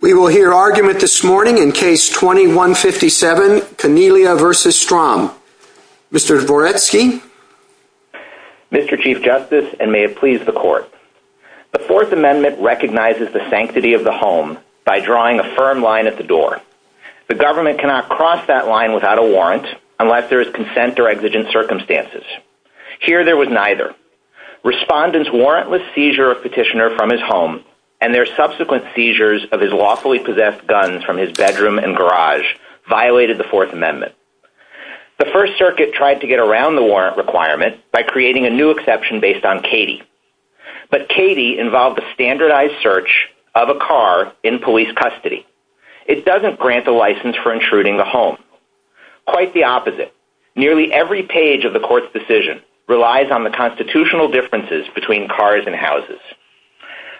We will hear argument this morning in Case 21-57, Tigniglia v. Strom. Mr. Dvoretsky? Mr. Chief Justice, and may it please the Court, the Fourth Amendment recognizes the sanctity of the home by drawing a firm line at the door. The government cannot cross that line without a warrant unless there is consent or exigent circumstances. Here there was neither. Respondents warrant with seizure of petitioner from his home and their subsequent seizures of his lawfully possessed guns from his bedroom and garage violated the Fourth Amendment. The First Circuit tried to get around the warrant requirement by creating a new exception based on Katie, but Katie involved a standardized search of a car in police custody. It doesn't grant a license for intruding the home. Quite the opposite. Nearly every page of the Court's decision relies on the constitutional differences between cars and houses.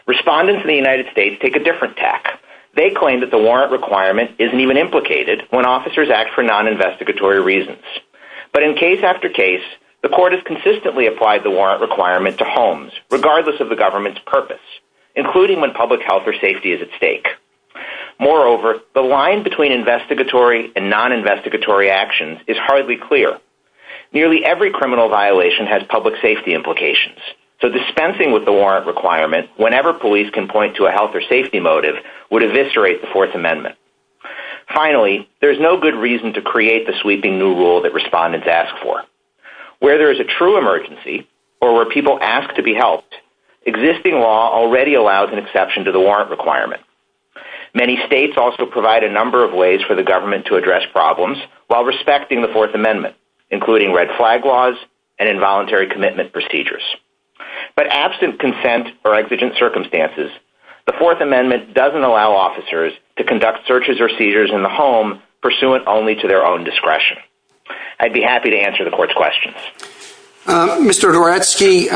Respondents in the United States take a different tack. They claim that the warrant requirement isn't even implicated when officers act for non-investigatory reasons. But in case after case, the Court has consistently applied the warrant requirement to homes, regardless of the government's purpose, including when public health or safety is at stake. Moreover, the line between investigatory and non-investigatory actions is hardly clear. Nearly every criminal violation has public safety implications, so dispensing with the warrant requirement whenever police can point to a health or safety motive would eviscerate the Fourth Amendment. Finally, there's no good reason to create the sweeping new rule that respondents ask for. Where there is a true emergency or where people ask to be helped, existing law already allows an exception to the warrant requirement. Many states also provide a number of ways for the government to address problems while respecting the Fourth Amendment, including red flag laws and involuntary commitment procedures. But absent consent or exigent circumstances, the Fourth Amendment doesn't allow officers to conduct searches or seizures in the home pursuant only to their own discretion. I'd be happy to answer the Court's questions. Mr. Goretsky,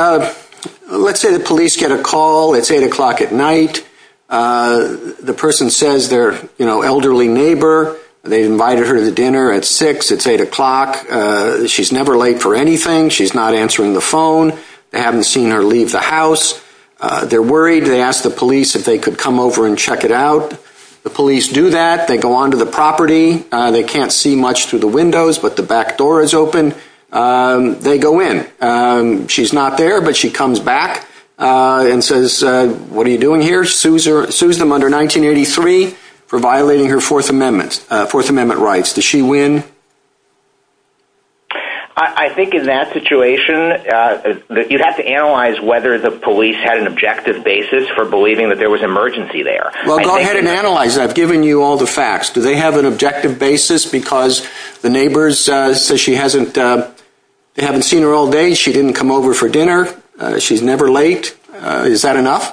let's say the police get a call, it's eight o'clock at night, the person says their, you know, elderly neighbor, they invited her to dinner at six, it's eight o'clock, she's never late for anything, she's not answering the phone, they haven't seen her leave the house, they're worried, they asked the police if they could come over and check it out. The police do that, they go onto the property, they can't see much through the windows, but the back door is open, they go in. She's not there, but she comes back and says, what are you doing here? Sues her, sues them under 1983 for violating her Fourth Amendment, Fourth Amendment rights. Does she win? I think in that situation, you'd have to analyze whether the police had an objective basis for believing that there was an emergency there. Well, go ahead and analyze that. I've given you all the facts. Do they have an objective basis because the neighbors say she hasn't, they haven't seen her all day, she didn't come over for dinner, she's never late, is that enough?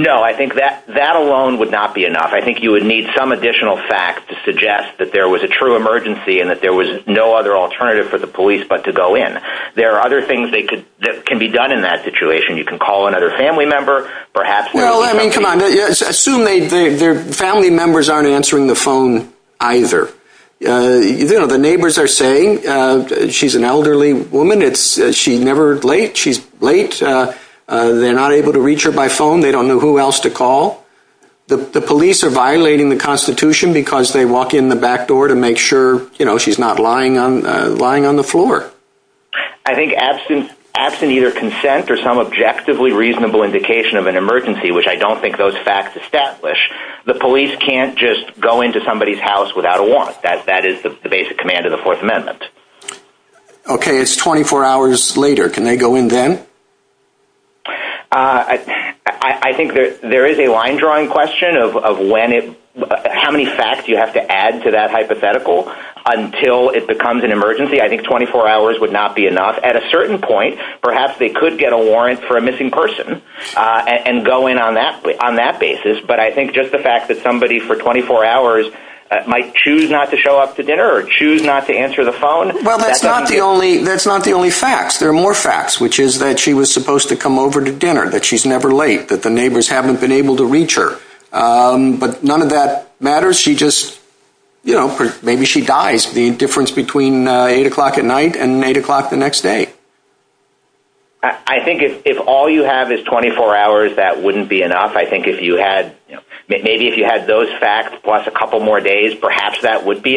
No, I think that that alone would not be enough. I think you would need some additional facts to suggest that there was a true emergency and that there was no other alternative for the police but to go in. There are other things that could, that can be done in that situation. You can call another family member, perhaps... Well, I mean, come on, assume they, their family members aren't answering the phone either. You know, the neighbors are saying she's an elderly woman, it's, she never late, she's late, they're not able to reach her by phone, they don't know who else to call. The police are violating the constitution because they walk in the back door to make sure, you know, she's not lying on, lying on the floor. I think absent, absent either consent or some objectively reasonable indication of an emergency, which I don't think those facts establish, the police can't just go into somebody's house without a warrant. That, that is the basic command of the Fourth Amendment. Okay, it's 24 hours later. Can they go in again? I, I think that there is a line drawing question of when it, how many facts you have to add to that hypothetical until it becomes an emergency. I think 24 hours would not be enough. At a certain point, perhaps they could get a warrant for a missing person and go in on that, on that basis, but I think just the fact that somebody for 24 hours might choose not to show up to dinner or choose not to answer the phone. Well, that's not the only, that's not the only facts. There are more facts, which is that she was supposed to come over to dinner, that she's never late, that the neighbors haven't been able to reach her, but none of that matters. She just, you know, maybe she dies. The difference between eight o'clock at night and eight o'clock the next day. I think if, if all you have is 24 hours, that wouldn't be enough. I think if you had, maybe if you had those facts plus a couple more days, perhaps that would be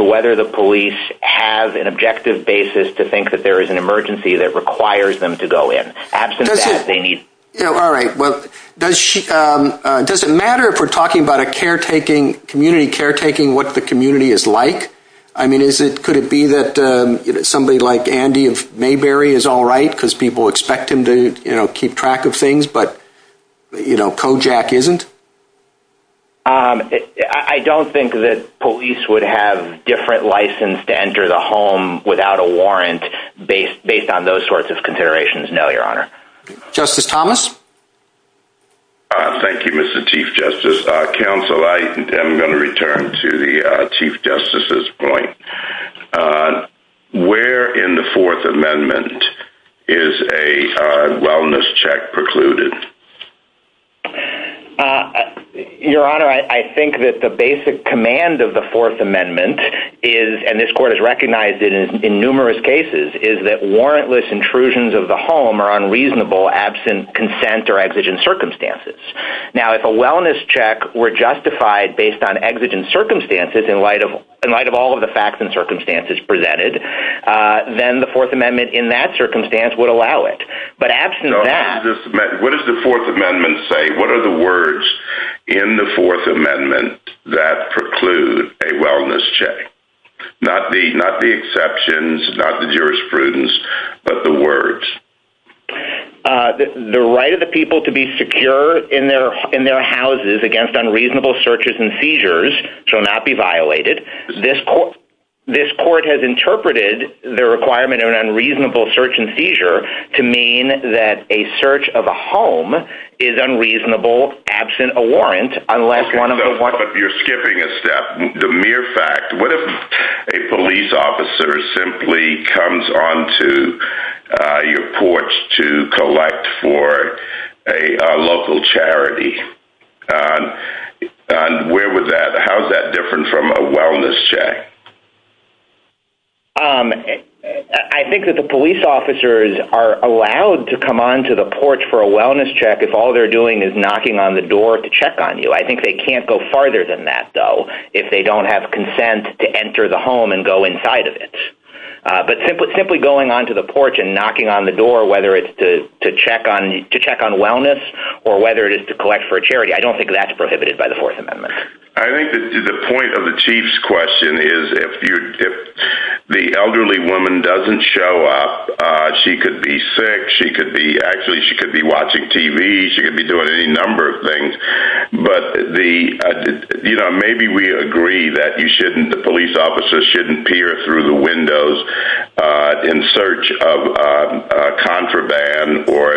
whether the police have an objective basis to think that there is an emergency that requires them to go in. Absolutely. Yeah, all right. Well, does she, does it matter if we're talking about a caretaking, community caretaking, what the community is like? I mean, is it, could it be that somebody like Andy of Mayberry is all right because people expect him to, you know, keep track of things, but, you know, Kojak isn't? Um, I don't think that police would have different license to enter the home without a warrant based, based on those sorts of considerations. No, your honor. Justice Thomas. Uh, thank you, Mr. Chief Justice. Uh, counsel, I am going to return to the, uh, Chief Justice's point. Uh, where in the fourth amendment is a, uh, wellness check precluded? Uh, your honor, I think that the basic command of the fourth amendment is, and this court has recognized it in numerous cases, is that warrantless intrusions of the home are unreasonable absent consent or exigent circumstances. Now, if a wellness check were justified based on exigent circumstances in light of, in light of all of the facts and circumstances presented, uh, then the fourth amendment in that circumstance would allow it. But what does the fourth amendment say? What are the words in the fourth amendment that preclude a wellness check? Not the, not the exceptions, not the jurisprudence, but the words. Uh, the right of the people to be secure in their, in their houses against unreasonable searches and seizures shall not be violated. This court, this court has interpreted the requirement of an unreasonable search and seizure to mean that a search of a home is unreasonable, absent a warrant, unless one of the, you're skipping a step. The mere fact, what if a police officer simply comes on to, uh, your porch to collect for a local charity? And where would that, how's that different from a wellness check? Um, I think that the police officers are allowed to come on to the porch for a wellness check. If all they're doing is knocking on the door to check on you. I think they can't go farther than that though. If they don't have consent to enter the home and go inside of it. Uh, but simply, simply going onto the porch and knocking on the door, whether it's to, to check on, to check on wellness or whether it is to collect for a charity, I don't think that's prohibited by the fourth amendment. I think that the point of the chief's question is if you're, the elderly woman doesn't show up, uh, she could be sick. She could be actually, she could be watching TV. She could be doing any number of things, but the, you know, maybe we agree that you shouldn't, the police officers shouldn't peer through the windows, uh, in search of a contraband or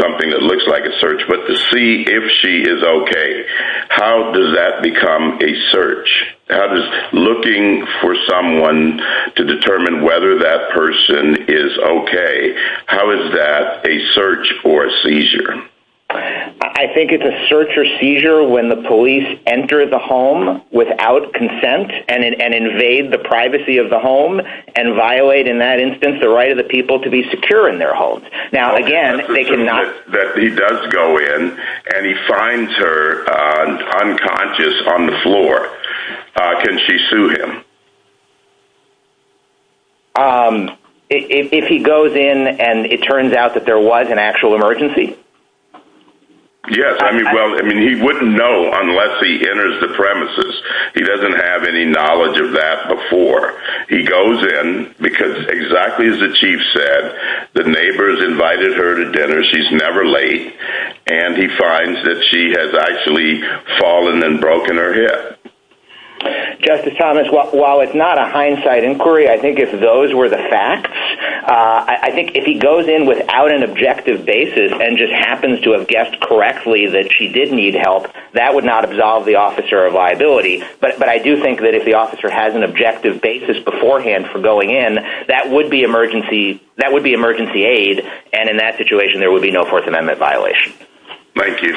something that looks like a search, but to see if she is okay, how does that become a search? How does looking for someone to determine whether that person is okay? How is that a search or a seizure? I think it's a search or seizure when the police enter the home without consent and, and invade the privacy of the home and violate in that instance, the right of the people to be secure in their homes. Now, again, that he does go in and he finds her, uh, unconscious on the floor. Uh, can she sue him? Um, if he goes in and it turns out that there was an actual emergency. Yes. I mean, well, I mean, he wouldn't know unless he enters the premises. He doesn't have any knowledge of that before he goes in because exactly as the chief said, the neighbors invited her to dinner. She's never late and he finds that she has actually fallen and broken her hip. Justice Thomas, while it's not a hindsight inquiry, I think if those were the facts, uh, I think if he goes in without an objective basis and just happens to have guessed correctly that she did need help, that would not absolve the officer of liability. But, but I do think that if the officer has an objective basis beforehand for going in, that would be emergency, that would be emergency aid. And in that situation, there would be no fourth amendment violation. Thank you.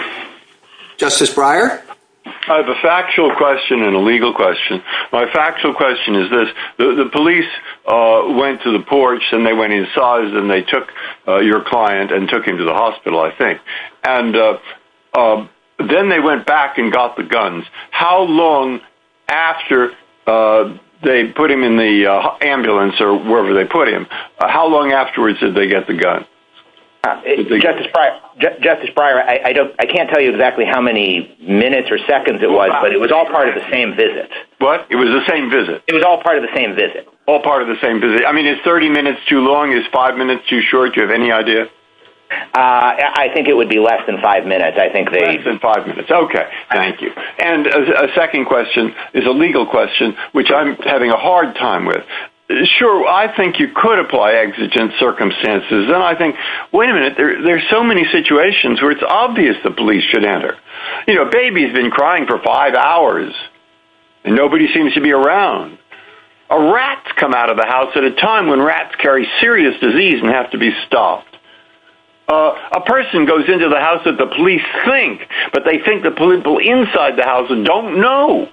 Justice Breyer. I have a factual question and a legal question. My factual question is this, the police, uh, went to the porch and they went inside and they took your client and took him to the hospital, I think. And, uh, um, then they went back and got the guns. How long after, uh, they put him in the ambulance or wherever they put him, how long afterwards did they get the gun? Justice Breyer, Justice Breyer, I don't, I can't tell you exactly how many minutes or seconds it was, but it was all part of the same visit. What? It was the same visit? It was all part of the same visit. All part of the same visit. I mean, it's 30 minutes too long, it's five minutes too short. Do you have any idea? Uh, I think it would be less than five minutes. I think less than five minutes. Okay. Thank you. And a second question is a legal question, which I'm having a hard time with. Sure. I think you could apply exigent circumstances. And I think, wait a minute, there's so many situations where it's obvious the police should enter. You know, baby's been crying for five hours and nobody seems to be around. A rat's come out of the house at a time when rats carry serious disease and have to be stopped. Uh, a person goes into the house that the police think, but they think the political inside the house and don't know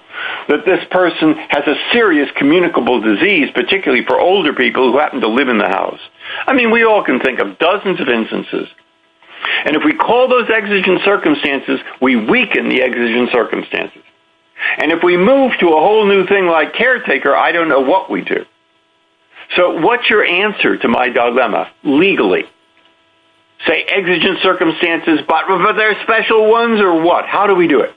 that this person has a serious communicable disease, particularly for older people who happen to live in the house. I mean, we all can think of dozens of instances. And if we call those exigent circumstances, we weaken the exigent circumstances. And if we move to a whole new thing like caretaker, I don't know what we do. So what's your answer to my dilemma legally? Say exigent circumstances, but are there special ones or what? How do we do it?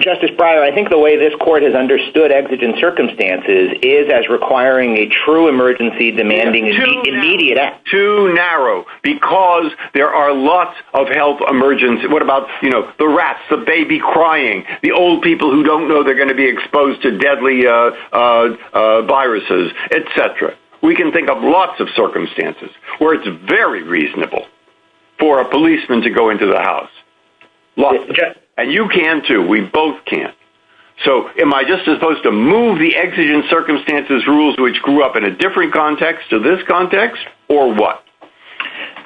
Justice Breyer, I think the way this court has understood exigent circumstances is as requiring a true emergency demanding immediate. Too narrow because there are lots of health emergency. What about, you know, the rats, the baby crying, the old people who don't know they're going to be exposed to deadly, uh, uh, uh, viruses, et cetera. We can think of lots of circumstances where it's very reasonable for a policeman to go to the house and you can too. We both can't. So am I just supposed to move the exigent circumstances rules, which grew up in a different context to this context or what?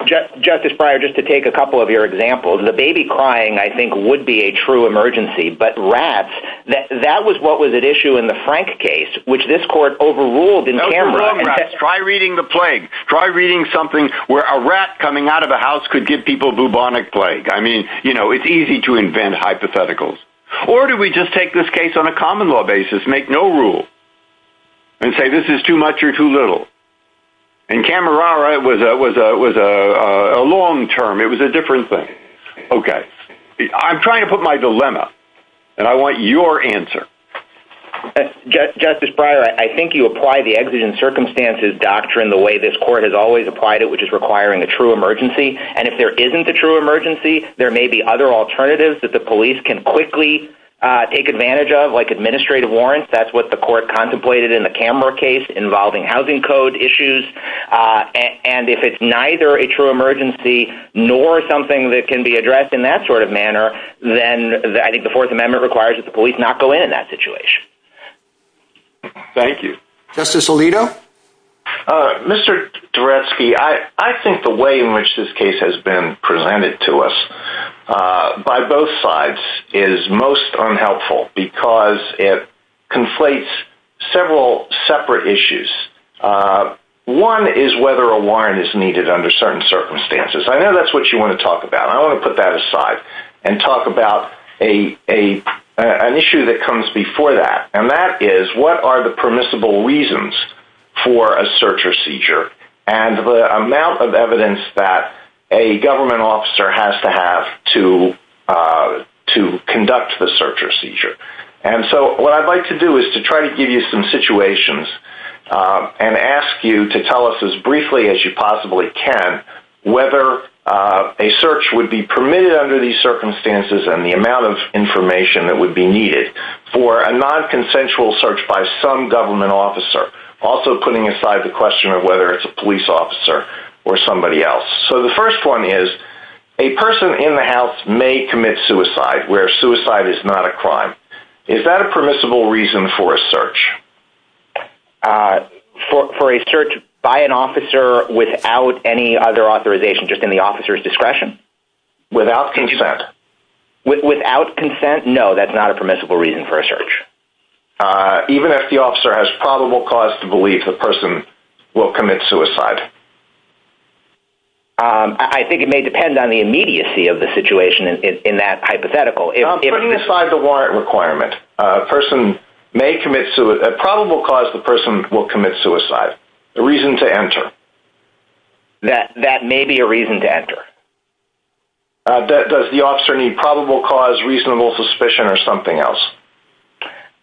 Justice Breyer, just to take a couple of your examples, the baby crying, I think would be a true emergency, but rats that, that was, what was at issue in the Frank case, which this court overruled and try reading the plague, try reading something where a rat coming out of the house could give people bubonic plague. I mean, you know, it's easy to invent hypotheticals or do we just take this case on a common law basis, make no rule and say, this is too much or too little. And camera was a, was a, was a, a long term. It was a different thing. Okay. I'm trying to put my dilemma and I want your answer. Justice Breyer, I think you apply the exigent circumstances doctrine, the way this court has always applied it, which is requiring a true emergency. And if there isn't a true emergency, there may be other alternatives that the police can quickly take advantage of like administrative warrants. That's what the court contemplated in the camera case involving housing code issues. And if it's neither a true emergency, nor something that can be addressed in that sort of manner, then I think the fourth amendment requires that the police not go in that situation. Thank you. Justice Alito. Uh, Mr. Derefsky, I, I think the way in which this case has been presented to us, uh, by both sides is most unhelpful because it conflates several separate issues. Uh, one is whether a warrant is needed under certain circumstances. I know that's what you want to talk about. I don't want to put that aside and talk about a, a, an issue that comes before that. And that is what are the permissible reasons for a search or seizure and the amount of evidence that a government officer has to have to, uh, to conduct the search or seizure. And so what I'd like to do is to try to give you some situations, uh, and ask you to tell us as briefly as you possibly can, whether, uh, a search would be permitted under these by some government officer. Also putting aside the question of whether it's a police officer or somebody else. So the first one is a person in the house may commit suicide where suicide is not a crime. Is that a permissible reason for a search? Uh, for, for a search by an officer without any other authorization, just in the officer's discretion. Without consent. Without consent? No, that's not a permissible reason for a search. Uh, even if the officer has probable cause to believe the person will commit suicide. Um, I think it may depend on the immediacy of the situation in that hypothetical. Putting aside the warrant requirement, a person may commit suicide, a probable cause the person will commit suicide. The reason to enter. That may be a reason to enter. Does the officer need probable cause, reasonable suspicion or something else?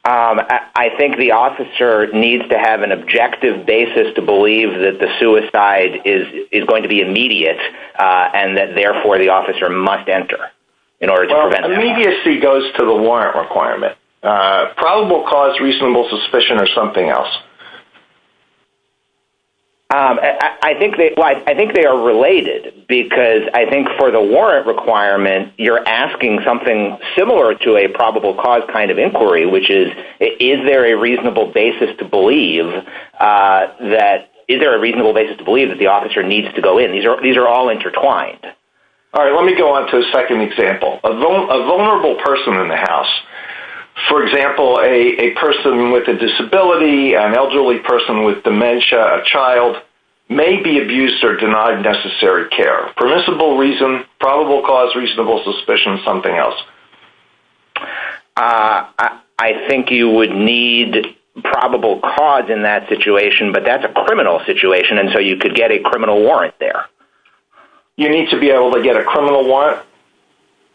Um, I think the officer needs to have an objective basis to believe that the suicide is, is going to be immediate, uh, and that therefore the officer must enter. In order to prevent immediacy goes to the warrant requirement, uh, probable cause, reasonable suspicion or something else. Um, I think they, I think they are related because I think for the warrant requirement, you're asking something similar to a probable cause kind of inquiry, which is, is there a reasonable basis to believe, uh, that is there a reasonable basis to believe that the officer needs to go in? These are, these are all intertwined. All right, let me go on to the second example of a vulnerable person in the house. For example, a person with a disability, an elderly person with dementia, a child may be abused or denied necessary care. Permissible reason, probable cause, reasonable suspicion, something else. Uh, I think you would need probable cause in that situation, but that's a criminal situation. And so you could get a criminal warrant there. You need to be able to get a criminal warrant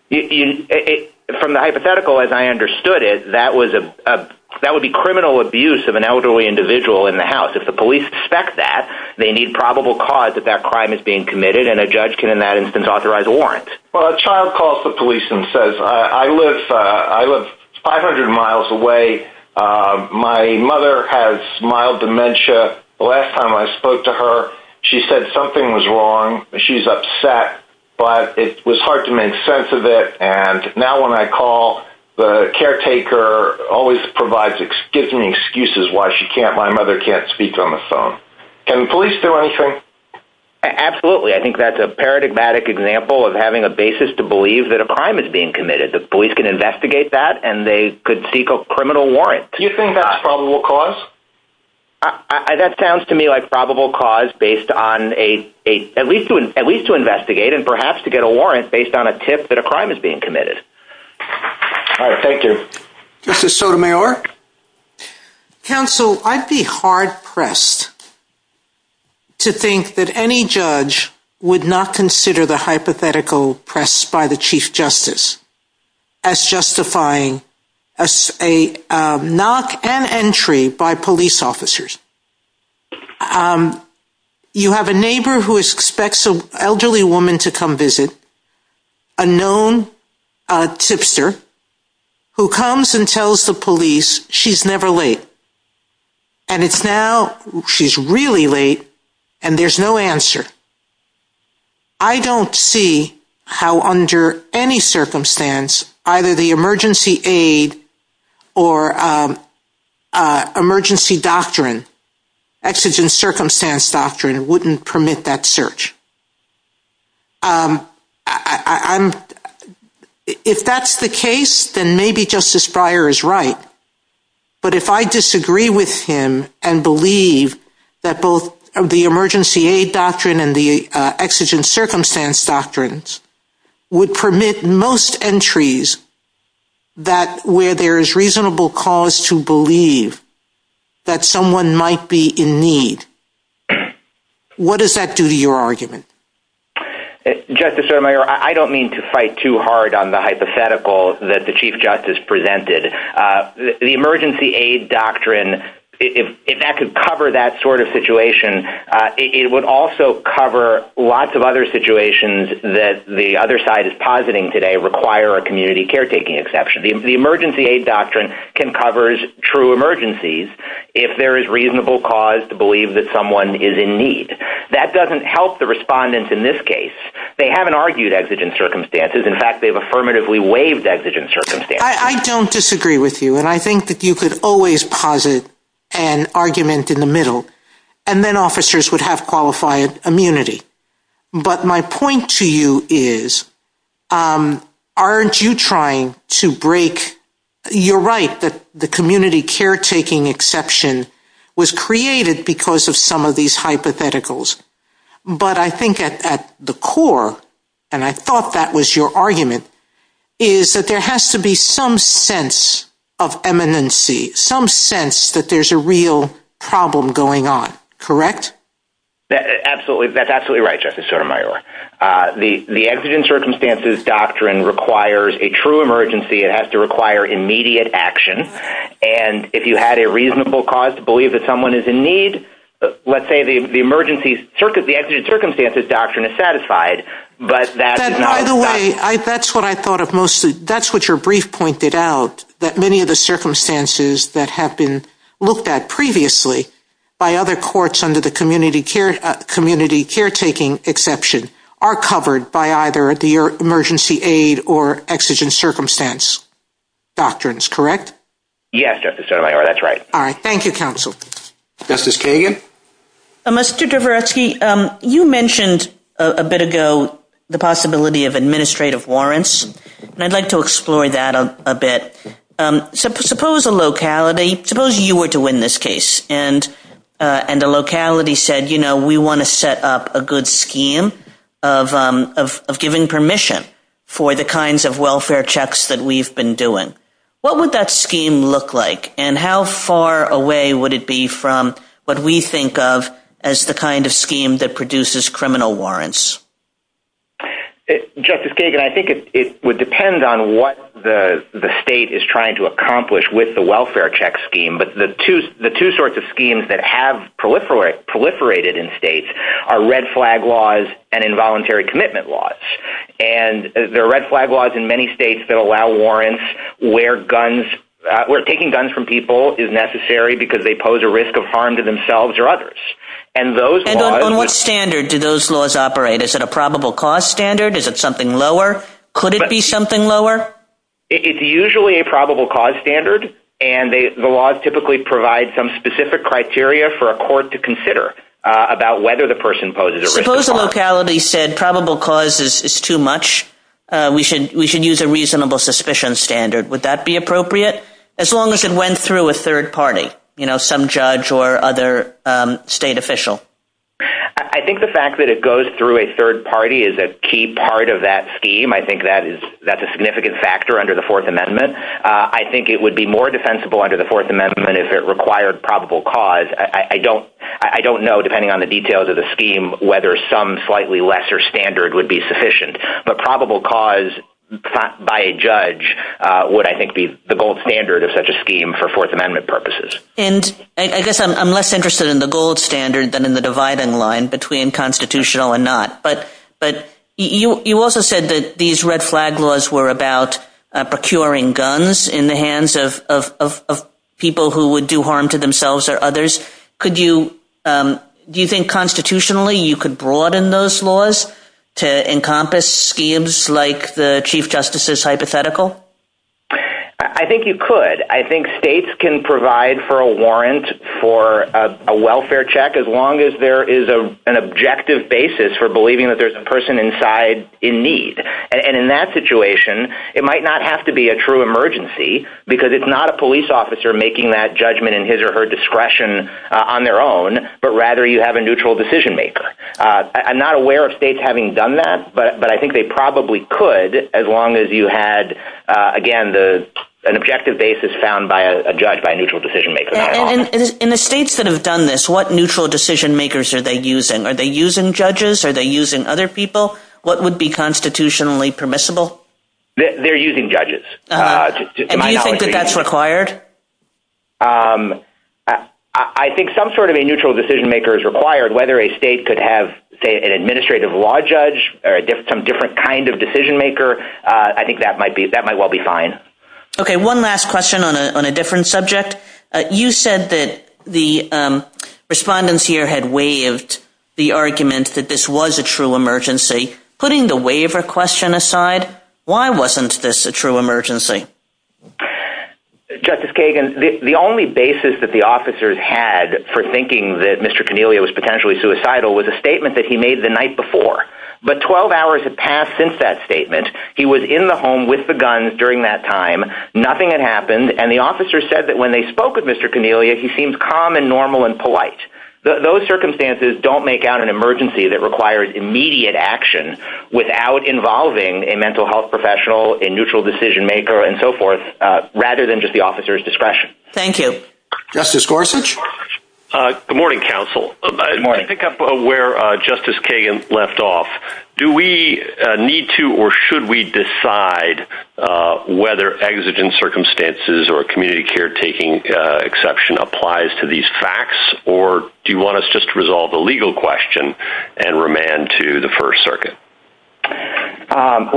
from the hypothetical. As I understood it, that was a, that would be criminal abuse of an elderly individual in the house. If the police suspect that they need probable cause that that crime is being committed and a judge can, in that instance, authorize a warrant. Well, a child calls the police and says, I live, uh, I live 500 miles away. Um, my mother has mild dementia. The last time I spoke to her, she said something was wrong. She's upset, but it was hard to make sense of it. And now when I call the caretaker always provides excuse me, excuses why she can't, my mother can't speak on the phone. Can police do anything? Absolutely. I think that's a paradigmatic example of having a basis to believe that a crime is being committed that police can investigate that and they could seek a criminal warrant. Do you think that's probable cause I, that sounds to me like probable cause based on a, a, at least, at least to investigate and perhaps to get a warrant based on a tip that a crime is being committed. All right. Thank you. This is Sotomayor council. I'd be hard pressed to think that any judge would not consider the hypothetical press by the chief justice as justifying a, a, a knock and entry by police officers. Um, you have a neighbor who expects an elderly woman to come visit a known tipster who comes and tells the police she's never late. And it's now she's really late and there's no answer. I don't see how under any circumstance, either the emergency aid or, um, uh, emergency doctrine, exigent circumstance doctrine wouldn't permit that search. Um, I I'm, if that's the case, then maybe justice prior is right. But if I disagree with him and believe that both of the emergency aid doctrine and the exigent circumstance doctrines would permit most entries that where there is reasonable cause to believe that someone might be in need, what does that do to your argument? Justice Sotomayor, I don't mean to fight too hard on the hypothetical that the chief justice presented, uh, the emergency aid doctrine, if that could cover that sort of situation, uh, it would also cover lots of other situations that the other side is positing today require a community caretaking exception. The emergency aid doctrine can covers true emergencies. If there is reasonable cause to believe that someone is in need, that doesn't help the respondents in this case, they haven't argued exigent circumstances. In fact, they've affirmatively waived exigent circumstances. I don't disagree with you. And I think that you could always posit an argument in the middle and then officers would have qualified immunity. But my point to you is, um, aren't you trying to break, you're right that the community caretaking exception was created because of some of these hypotheticals, but I think at the core, and I thought that was your argument is that there has to be some sense of eminency, some sense that there's a real problem going on, correct? Absolutely. That's absolutely right. Justice Sotomayor, uh, the, the exigent circumstances doctrine requires a true emergency. It has to require immediate action. And if you had a reasonable cause to believe that someone is in need, let's say the, the circumstances doctrine is satisfied, but that's what I thought of mostly. That's what your brief pointed out that many of the circumstances that have been looked at previously by other courts under the community care community caretaking exception are covered by either the emergency aid or exigent circumstance doctrines. Correct? Yes, that's right. All right. Thank you. Justice Kagan? Mr. Dvoretsky, um, you mentioned a bit ago, the possibility of administrative warrants, and I'd like to explore that a bit. Suppose a locality, suppose you were to win this case and, uh, and the locality said, you know, we want to set up a good scheme of, um, of, of giving permission for the kinds of welfare checks that we've been doing. What would that scheme look like? And how far away would it be from what we think of as the kind of scheme that produces criminal warrants? Justice Kagan, I think it would depend on what the state is trying to accomplish with the welfare check scheme. But the two, the two sorts of schemes that have proliferated in states are red flag laws and involuntary commitment laws. And there are red flag laws in many states that allow warrants where guns, uh, where taking guns from people is necessary because they pose a risk of harm to themselves or others. And those laws... And on what standard do those laws operate? Is it a probable cause standard? Is it something lower? Could it be something lower? It's usually a probable cause standard. And they, the laws typically provide some specific criteria for a court to consider about whether the person poses a risk. Proposal locality said probable causes is too much. We should, we should use a reasonable suspicion standard. Would that be appropriate? As long as it went through a third party, you know, some judge or other state official. I think the fact that it goes through a third party is a key part of that scheme. I think that is, that's a significant factor under the fourth amendment. I think it would be more defensible under the fourth amendment if it required probable cause. I don't know, depending on the details of the scheme, whether some slightly lesser standard would be sufficient, but probable cause by a judge, uh, would I think be the gold standard of such a scheme for fourth amendment purposes. And I guess I'm less interested in the gold standard than in the dividing line between constitutional and not, but, but you, you also said that these red flag laws were about procuring guns in the hands of, of, of, of people who would do harm to themselves or others. Could you, um, do you think constitutionally you could broaden those laws to encompass schemes like the chief justice's hypothetical? I think you could, I think states can provide for a warrant for a welfare check. As long as there is a, an objective basis for believing that there's a person inside in need. And in that situation, it might not have to be a true emergency because it's not a police officer making that judgment in his or her discretion on their own, but rather you have a neutral decision maker. Uh, I'm not aware of states having done that, but, but I think they probably could as long as you had, uh, again, the, an objective basis found by a judge by a neutral decision maker. In the states that have done this, what neutral decision makers are they using? Are they using judges? Are they using other people? What would be constitutionally permissible? They're using judges, uh, required. Um, I think some sort of a neutral decision maker is required, whether a state could have say an administrative law judge or a different, some different kind of decision maker. Uh, I think that might be, that might well be fine. Okay. One last question on a, on a different subject. You said that the, um, respondents here had waived the argument that this was a true emergency, putting the waiver question aside. Why wasn't this a true emergency? Justice Kagan, the only basis that the officers had for thinking that Mr. Cornelia was potentially suicidal was a statement that he made the night before, but 12 hours had passed since that statement. He was in the home with the guns during that time, nothing had happened. And the officer said that when they spoke with Mr. Cornelia, he seems calm and normal and polite. Those circumstances don't make out an emergency that requires immediate action without involving a mental health professional in neutral decision maker and so forth, uh, rather than just the officer's discretion. Thank you. Justice Gorsuch. Uh, good morning, counsel. Pick up where, uh, justice Kagan left off. Do we need to, or should we decide, uh, whether exigent circumstances or community care taking, uh, exception applies to these facts, or do you want us just to resolve the legal question and remand to the first circuit? Um,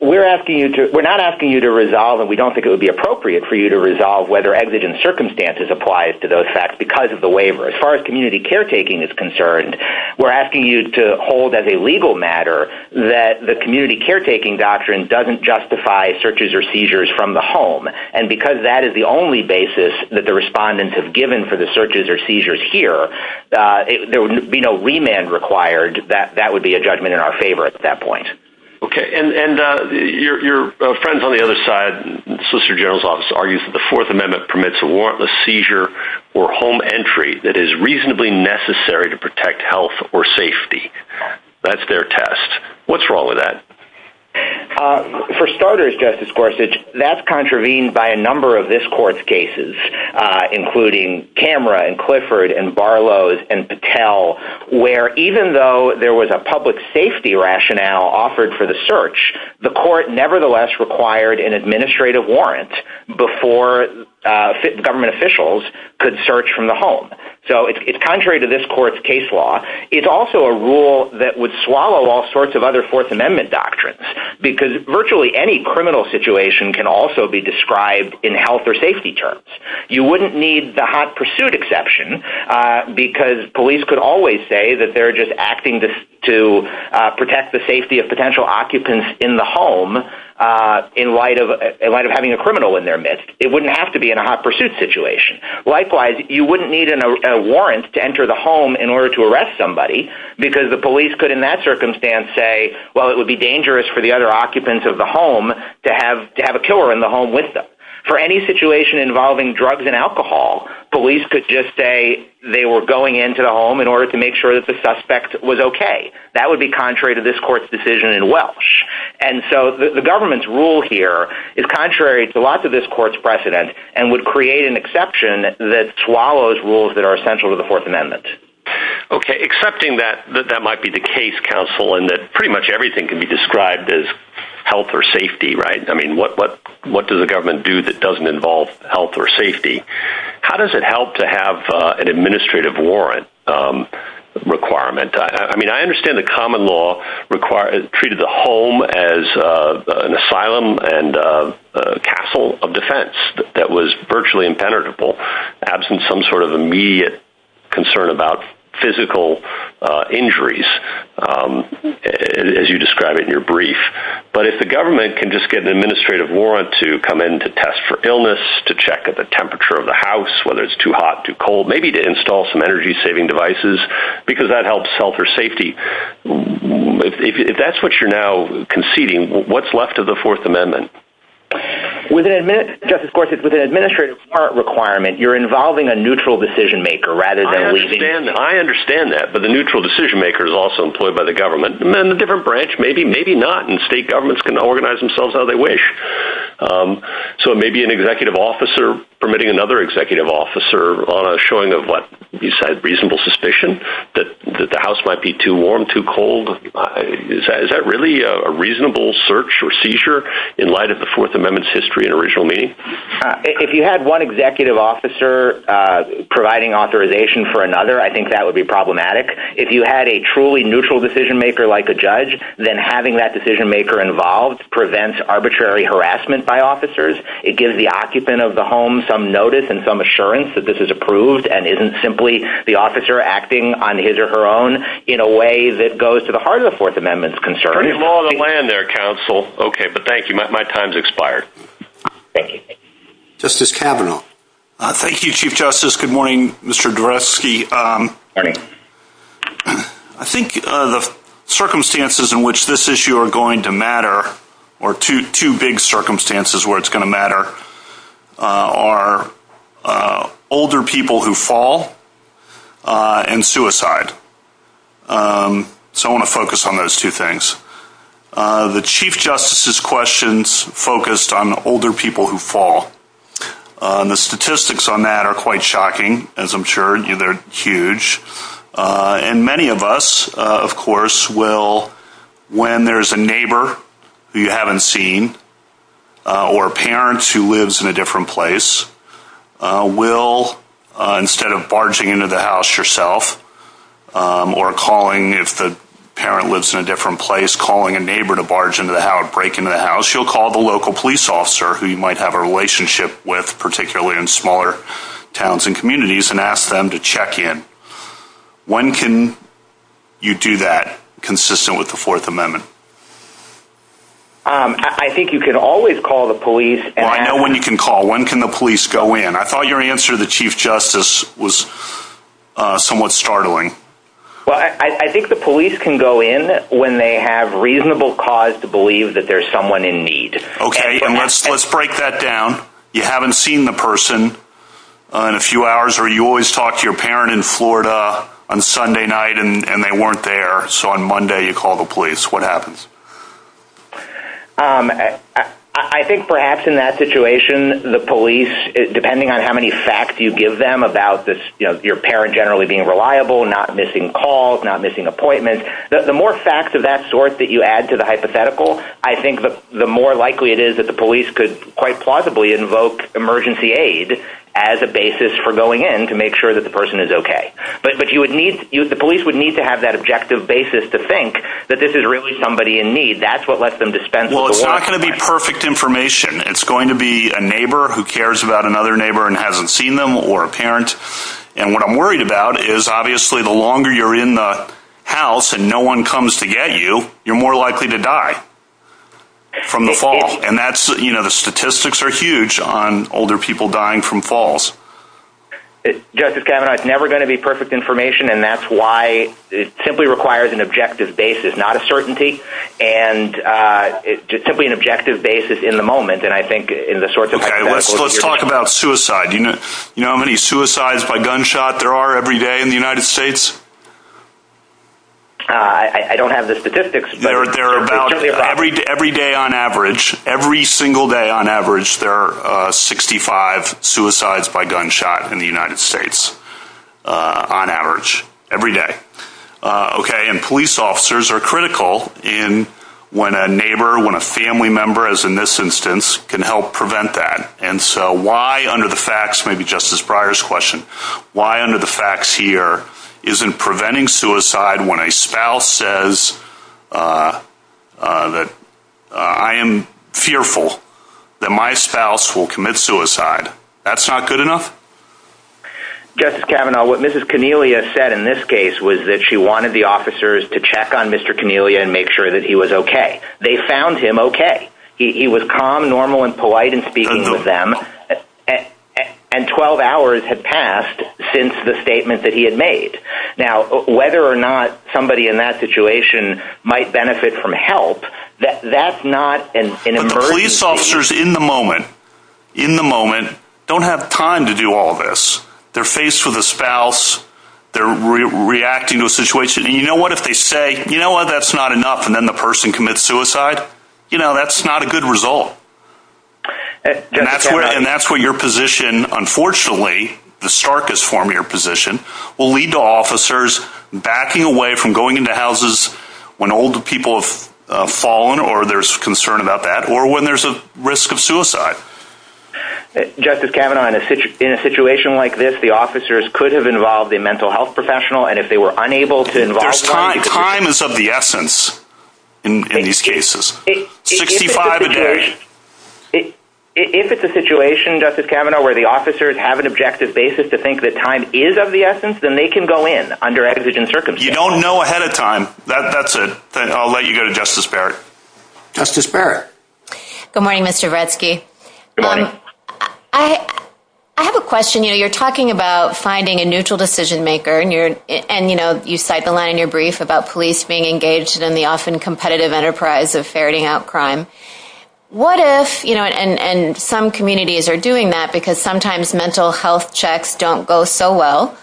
we're asking you to, we're not asking you to resolve it. We don't think it would be appropriate for you to resolve whether exigent circumstances applies to those facts because of the waiver. As far as community caretaking is concerned, we're asking you to hold as a legal matter that the community caretaking doctrine doesn't justify searches or seizures from the home. And because that is the only basis that the respondents have given for the searches or seizures here, uh, there would be no remand required that that would be a judgment in our favor at that point. Okay. And, and, uh, your, your friends on the other side, solicitor general's office argues that the fourth amendment permits a warrantless seizure or home entry that is reasonably necessary to protect health or safety. That's their test. What's wrong with that? Uh, for starters, Justice Gorsuch, that's contravened by a number of this court's cases, uh, including camera and Clifford and Barlow's and to tell where even though there was a public safety rationale offered for the search, the court nevertheless required an administrative warrant before, uh, government officials could search from the home. So it's, it's contrary to this court's case law. It's also a rule that would swallow all sorts of other fourth amendment doctrines because virtually any criminal situation can also be described in health or safety terms. You wouldn't need the hot pursuit exception, uh, because police could always say that they're just acting to, to, uh, protect the safety of potential occupants in the home. Uh, in light of, in light of having a criminal in their midst, it wouldn't have to be in a hot pursuit situation. Likewise, you wouldn't need a warrant to enter the home in order to arrest somebody because the police could in that circumstance say, well, it would be dangerous for the other occupants of the home to have to have a killer in the home with them for any situation involving drugs and alcohol. Police could just say they were going into the home in order to make sure that the suspect was okay. That would be contrary to this court's decision in Welsh. And so the government's rule here is contrary to lots of this court's precedent and would create an exception that swallows rules that are essential to the fourth amendment. Okay. Accepting that, that that might be the case counsel and that pretty much everything can be described as health or safety, right? I mean, what, what, what does the government do that doesn't involve health or safety? How does it help to have a, an administrative warrant, um, requirement? I mean, I understand the common law require it treated the home as, uh, an asylum and, uh, a castle of defense that was virtually impenetrable absent some sort of immediate concern about physical, uh, injuries, um, as you describe it in your brief, but if the government can just get an administrative warrant to come in to test for illness, to check at the temperature of the house, whether it's too hot, too cold, maybe to install some energy saving devices, because that helps sell for safety. If that's what you're now conceding what's left of the fourth amendment. Within a minute, just as course it's within administrative part requirement, you're involving a neutral decision-maker rather than leaving. I understand that, but the neutral decision-maker is also employed by the government and the different branch, maybe, maybe not. And state governments can organize themselves how they wish. Um, so maybe an executive officer permitting another executive officer on a showing of what you said, reasonable suspicion that the house might be too warm, too cold. Is that really a reasonable search or seizure in light of the fourth amendment's history and original meaning? If you had one executive officer, uh, providing authorization for another, I think that would be problematic. If you had a truly neutral decision-maker like a judge, then having that decision-maker involved prevents arbitrary harassment by officers. It gives the occupant of the home, some notice and some assurance that this is approved. And isn't simply the officer acting on his or her own in a way that goes to the heart of the fourth amendment's concern. Pretty small on the land there. Counsel. Okay. But thank you. My time's expired. Thank you. Justice Kavanaugh. Thank you. Chief justice. Good morning, Mr. Dreschke. Um, I think, uh, the circumstances in which this issue are going to matter or two, two circumstances where it's going to matter, uh, are, uh, older people who fall, uh, and suicide. Um, so I want to focus on those two things. Uh, the chief justice's questions focused on the older people who fall, uh, the statistics on that are quite shocking as I'm sure, you know, they're huge. Uh, and many of us, uh, of course will, when there's a neighbor who you haven't seen, uh, or parents who lives in a different place, uh, will, uh, instead of barging into the house yourself, um, or calling if the parent lives in a different place, calling a neighbor to barge into the house, break into the house, you'll call the local police officer who you might have a relationship with particularly in smaller towns and communities and ask them to check in. When can you do that consistent with the fourth amendment? Um, I think you can always call the police. I know when you can call. When can the police go in? I thought your answer to the chief justice was, uh, somewhat startling. Well, I think the police can go in when they have reasonable cause to believe that there's someone in need. Okay. And let's, let's break that down. You haven't seen the person on a few hours where you always talk to your parent in Florida on Sunday night and they weren't there. So on Monday you call the police, what happens? Um, I think perhaps in that situation, the police, depending on how many facts you give them about this, you know, your parent generally being reliable, not missing calls, not missing appointments, the more facts of that sort that you add to the hypothetical, I think the more likely it is that the police could quite plausibly invoke emergency aid as a basis for going in to make sure that the person is okay. But, but you would need you, the police would need to have that objective basis to think that this is really somebody in need. That's what lets them dispense. Well, it's not going to be perfect information. It's going to be a neighbor who cares about another neighbor and hasn't seen them or parents. And what I'm worried about is obviously the longer you're in the house and no one comes to get you, you're more likely to die. From the fall. And that's, you know, the statistics are huge on older people dying from falls. Justice Kavanaugh, it's never going to be perfect information. And that's why it simply requires an objective basis, not a certainty. And, uh, it's just simply an objective basis in the moment. And I think in the sorts of, let's talk about suicide. You know, you know how many suicides by gunshot there are every day in the United States? Uh, I don't have the statistics. They're about every day, every day on average, every single day on average, there are 65 suicides by gunshot in the United States, uh, on average every day. Uh, okay. And police officers are critical in when a neighbor, when a family member as in this instance can help prevent that. And so why under the facts, maybe Justice Breyer's question, why under the facts here isn't preventing suicide when a spouse says, uh, uh, that, uh, I am fearful that my spouse will commit suicide. That's not good enough. Justice Kavanaugh, what mrs. Cornelia said in this case was that she wanted the officers to check on mr. Cornelia and make sure that he was okay. They found him. Okay. He was calm, normal, and polite and speaking with them. Uh, and 12 hours had passed since the statement that he had made now, whether or not somebody in that situation might benefit from help that that's not an emergency officers in the moment, in the moment, don't have time to do all this. They're faced with a spouse. They're reacting to a situation. And you know what, if they say, you know what, that's not enough. And then the person commits suicide. You know, that's not a good result. And that's where your position, unfortunately, the starkest form of your position will lead to officers backing away from going into houses when older people have fallen, or there's concern about that, or when there's a risk of suicide. Justice Kavanaugh in a situation like this, the officers could have involved a mental health professional. And if they were unable to invite time is of the essence. In these cases, if it's a situation, Justice Kavanaugh, where the officers have an objective basis to think that time is of the essence, then they can go in under exigent circumstances. You don't know ahead of time. That's it. Then I'll let you go to Justice Barrett. Justice Barrett. Good morning, Mr. Redsky. I have a question. You know, you're talking about finding a neutral decision maker and you're, and you cite the line in your brief about police being engaged in the often competitive enterprise of ferreting out crime. What if, you know, and some communities are doing that because sometimes mental health checks don't go so well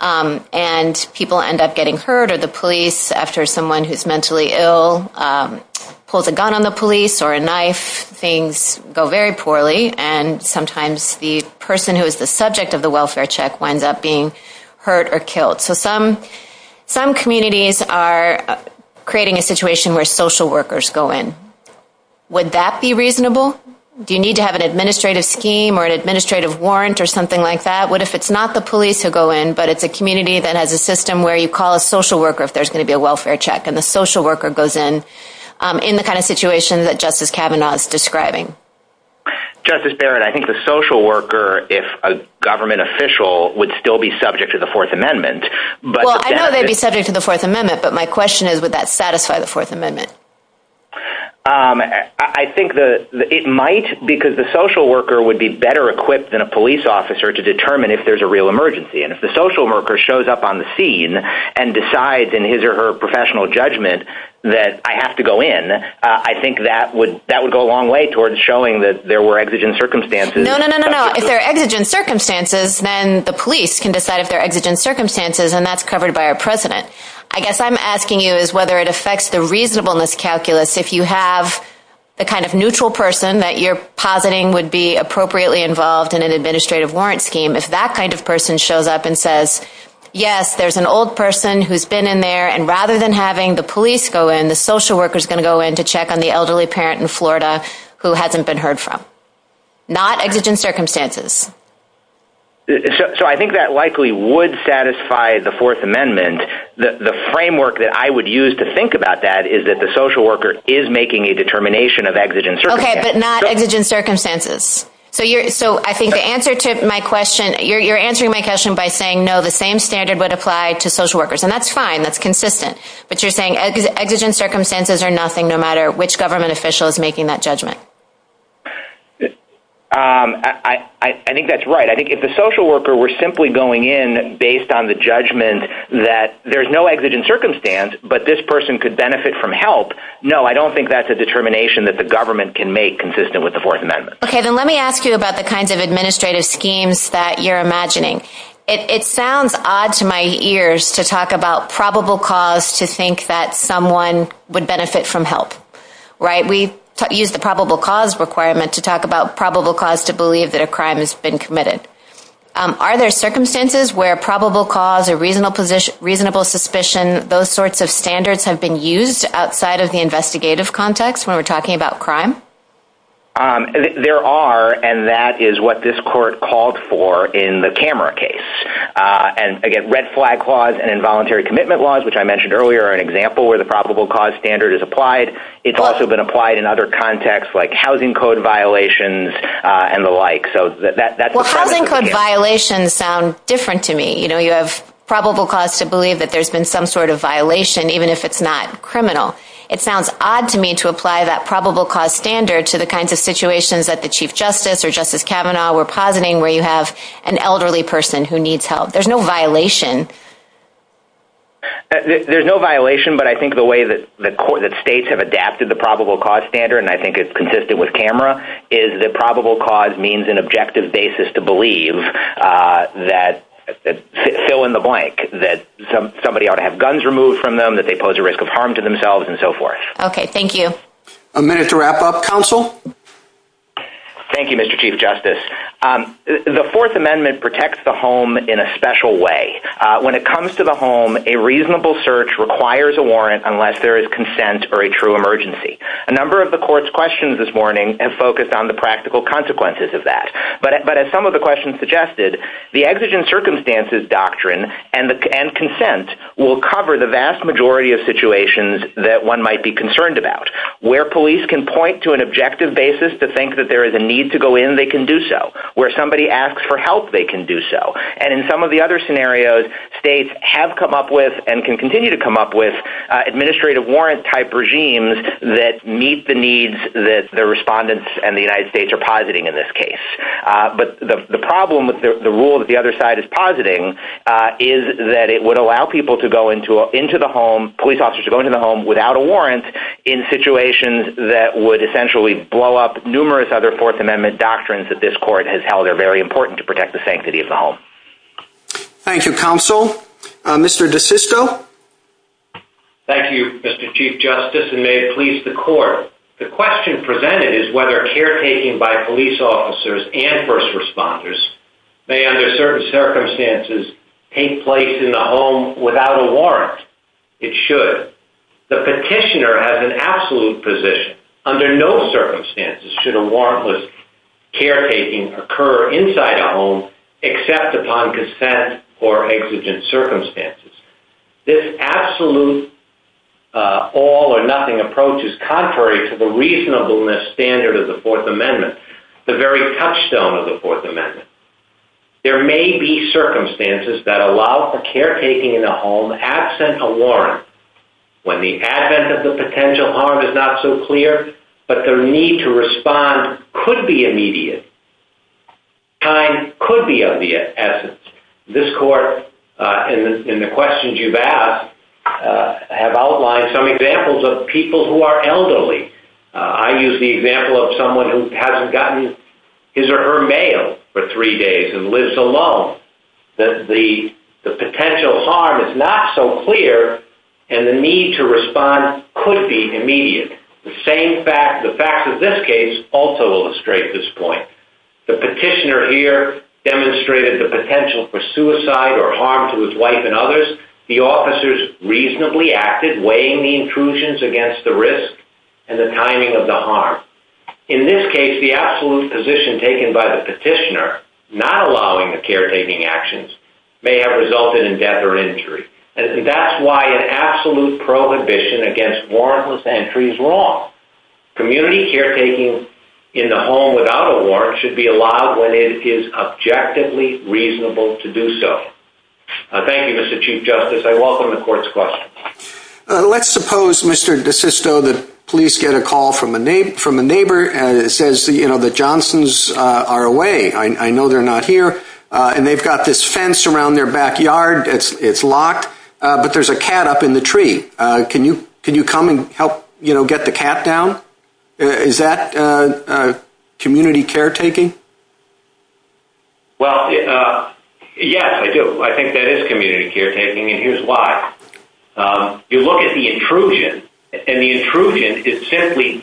and people end up getting hurt or the police after someone who's mentally ill pulls a gun on the police or a knife, things go very poorly. And sometimes the person who is the subject of the welfare check winds up being hurt or killed. So some, some communities are creating a situation where social workers go in. Would that be reasonable? Do you need to have an administrative scheme or an administrative warrant or something like that? What if it's not the police who go in, but it's a community that has a system where you call a social worker, if there's going to be a welfare check and the social worker goes in, um, in the kind of situation that Justice Kavanaugh is describing. Justice Barrett, I think the social worker, if a government official would still be subject to the fourth amendment, but I know they'd be subject to the fourth amendment, but my question is, would that satisfy the fourth amendment? Um, I think the, it might because the social worker would be better equipped than a police officer to determine if there's a real emergency. And if the social worker shows up on the scene and decides in his or her professional judgment that I have to go in, uh, I think that would, that would go a long way towards showing that No, no, no, no, no. I'm asking you is whether it affects the reasonableness calculus. If you have the kind of neutral person that you're positing would be appropriately involved in an administrative warrant scheme. If that kind of person shows up and says, yes, there's an old person who's been in there. And rather than having the police go in, the social worker is going to go in to check on the elderly parent in Florida who hasn't been heard from not exigent circumstances. So, so I think that likely would satisfy the fourth amendment, the framework that I would use to think about that is that the social worker is making a determination of exigent circumstances. Okay, but not exigent circumstances. So you're, so I think the answer to my question, you're, you're answering my question by saying no, the same standard would apply to social workers. And that's fine. That's consistent, but you're saying exigent circumstances are nothing, no matter which government official is making that judgment. Um, I, I, I think that's right. I think if the social worker were simply going in based on the judgment that there's no exigent circumstance, but this person could benefit from help. No, I don't think that's a determination that the government can make consistent with the fourth amendment. Okay. Then let me ask you about the kinds of administrative schemes that you're imagining. It sounds odd to my ears to talk about probable cause to think that someone would benefit from help, right? We use the probable cause requirement to talk about probable cause to believe that a crime has been committed. Are there circumstances where probable cause or reasonable position, reasonable suspicion, those sorts of standards have been used outside of the investigative context when we're talking about crime? Um, there are, and that is what this court called for in the camera case. And again, red flag clause and involuntary commitment laws, which I mentioned earlier are an example where the probable cause standard is applied. It's also been applied in other contexts like housing code violations, uh, and the like. So that, that, that's the problem. Housing code violations sound different to me. You know, you have probable cause to believe that there's been some sort of violation, even if it's not criminal. It sounds odd to me to apply that probable cause standard to the kinds of situations that the chief justice or justice Kavanaugh were positing where you have an elderly person who needs help. There's no violation. There's no violation, but I think the way that the court, that states have adapted the probable cause standard, and I think it's consistent with camera is the probable cause means an objective basis to believe, uh, that fill in the blank that some, somebody ought to have guns removed from them, that they pose a risk of harm to themselves and so forth. Okay. Thank you. A minute to wrap up council. Thank you, Mr. Chief justice. Um, the fourth amendment protects the home in a special way. Uh, when it comes to the home, a reasonable search requires a warrant unless there is consent or a true emergency. A number of the court's questions this morning and focused on the practical consequences of that. But, but as some of the questions suggested, the exigent circumstances doctrine and the and consent will cover the vast majority of situations that one might be concerned about where police can point to an objective basis to think that there is a need to go in. They can do so where somebody asks for help. They can do so. And in some of the other scenarios, states have come up with and can continue to come up with, uh, administrative warrant type regimes that meet the needs that the respondents and the United States are positing in this case. Uh, but the problem with the rule of the other side is positing, uh, is that it would allow people to go into, into the home police officers to go into the home without a warrant in situations that would essentially blow up numerous other fourth amendment doctrines that this court has held are very important to protect the sanctity of the home. Thank you, counsel. Mr. DeSisto. Thank you, Mr. Chief Justice, and may it please the court. The question presented is whether caretaking by police officers and first responders may under certain circumstances take place in the home without a warrant. It should. The petitioner has an absolute position. Under no circumstances should a warrantless caretaking occur inside the home except upon consent or exigent circumstances. This absolute, uh, all or nothing approach is contrary to the reasonableness standard of the fourth amendment, the very touchstone of the fourth amendment. There may be circumstances that allow the caretaking in a home absent a warrant when the advent of the potential harm is not so clear, but the need to respond could be immediate. Time could be of the essence. This court, uh, in the questions you've asked, uh, have outlined some examples of people who are elderly. I use the example of someone who hasn't gotten his or her mail for three days and lives alone. The potential harm is not so clear and the need to respond could be immediate. The same fact, the facts of this case also illustrate this point. The petitioner here demonstrated the potential for suicide or harm to his wife and others. The officers reasonably acted, weighing the intrusions against the risk and the timing of the harm. In this case, the absolute position taken by the petitioner not allowing the caretaking actions may have resulted in death or injury. That's why an absolute prohibition against warrantless entries law. Community caretaking in the home without a warrant should be allowed when it is objectively reasonable to do so. Thank you, Mr. Chief Justice. I welcome the court's question. Let's suppose, Mr. DeSisto, the police get a call from a neighbor and it says, you know, the Johnsons are away. I know they're not here. And they've got this fence around their backyard. It's locked. But there's a cat up in the tree. Can you come and help, you know, get the cat down? Is that community caretaking? Well, yes, I do. I think that is community caretaking. And here's why. You look at the intrusion, and the intrusion is simply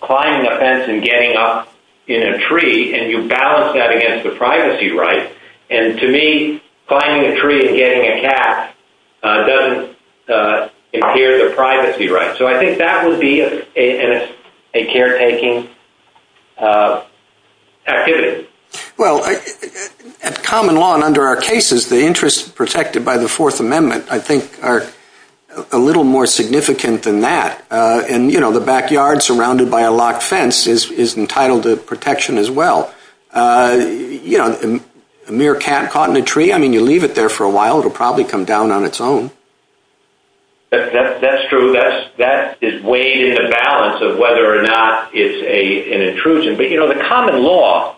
climbing a fence and getting up in a tree. And you balance that against the privacy rights. And to me, climbing a tree and getting a cat doesn't adhere to privacy rights. So I think that would be a caretaking activity. Well, at common law and under our cases, the interests perfected by the Fourth Amendment, I think, are a little more significant than that. And, you know, the backyard surrounded by a locked fence is entitled to protection as well. You know, a mere cat caught in a tree, I mean, you leave it there for a while, it'll probably come down on its own. That's true. That is way in the balance of whether or not it's an intrusion. But, you know, the common law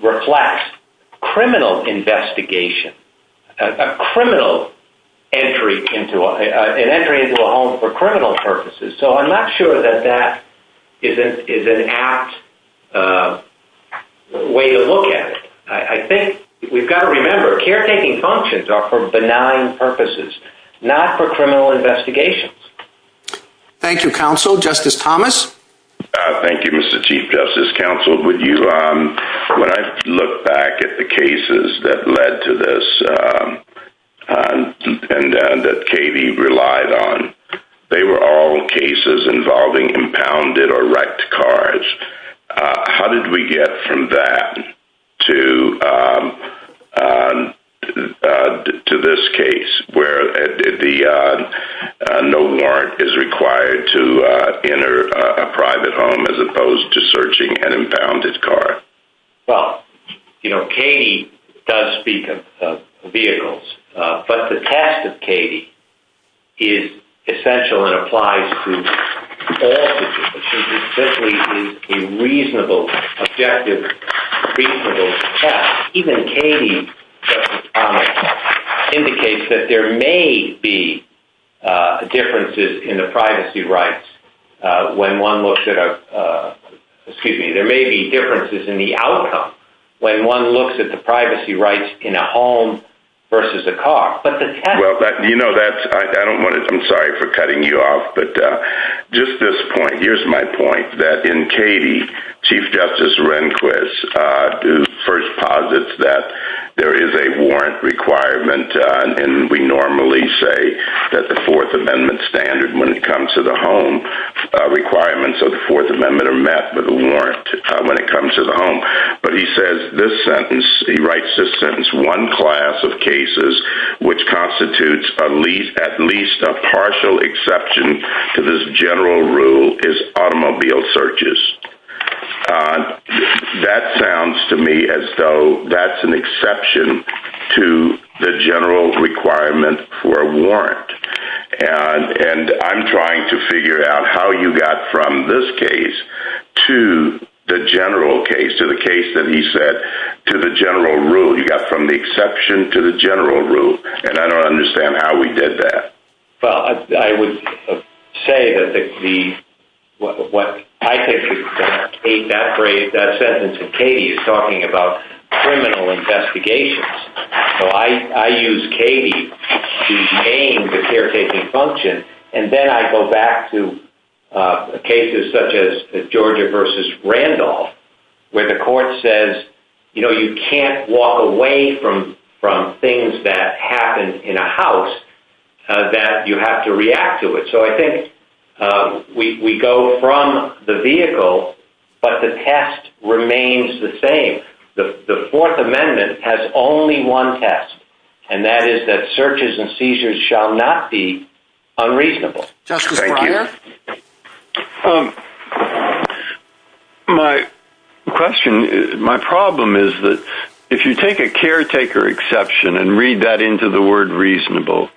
reflects criminal investigation, a criminal entry into a home for criminal purposes. So I'm not sure that that is an apt way to look at it. I think we've got to remember caretaking functions are for benign purposes, not for criminal investigations. Thank you, counsel. Justice Thomas. Thank you, Mr. Chief Justice. Counsel, when I look back at the cases that led to this, and that Katie relied on, they were all cases involving impounded or wrecked cars. How did we get from that to this case where no warrant is required to enter a private home as opposed to searching an impounded car? Well, you know, Katie does speak of vehicles. But the test of Katie is essential and applies to all people, especially to a reasonable, objective, reasonable test. Even Katie, Justice Thomas, indicates that there may be differences in the privacy rights when one looks at a—excuse me, there may be differences in the outcome when one looks at the privacy rights in a home versus a car. But the test— Well, you know, that's—I don't want to—I'm sorry for cutting you off. But just this point, here's my point, that in Katie, Chief Justice Rehnquist first posits that there is a warrant requirement, and we normally say that the Fourth Amendment standard when it comes to the home requirements of the Fourth Amendment are met with a warrant when it comes to the home. But he says this sentence, he writes this sentence, one class of cases which constitutes at least a partial exception to this general rule is automobile searches. That sounds to me as though that's an exception to the general requirement for a warrant. And I'm trying to figure out how you got from this case to the general case, to the case that he said, to the general rule. You got from the exception to the general rule, and I don't understand how we did that. Well, I would say that the—what I think is—to take that phrase, that sentence of Katie is talking about criminal investigations. So I use Katie to name the caretaking function, and then I go back to cases such as Georgia v. Randolph, where the court says, you know, you can't walk away from things that happen in a house that you have to react to it. So I think we go from the vehicle, but the test remains the same. The Fourth Amendment has only one test, and that is that searches and seizures shall not be unreasonable. Justice Breyer? My question—my problem is that if you take a caretaker exception and read that into the word reasonable,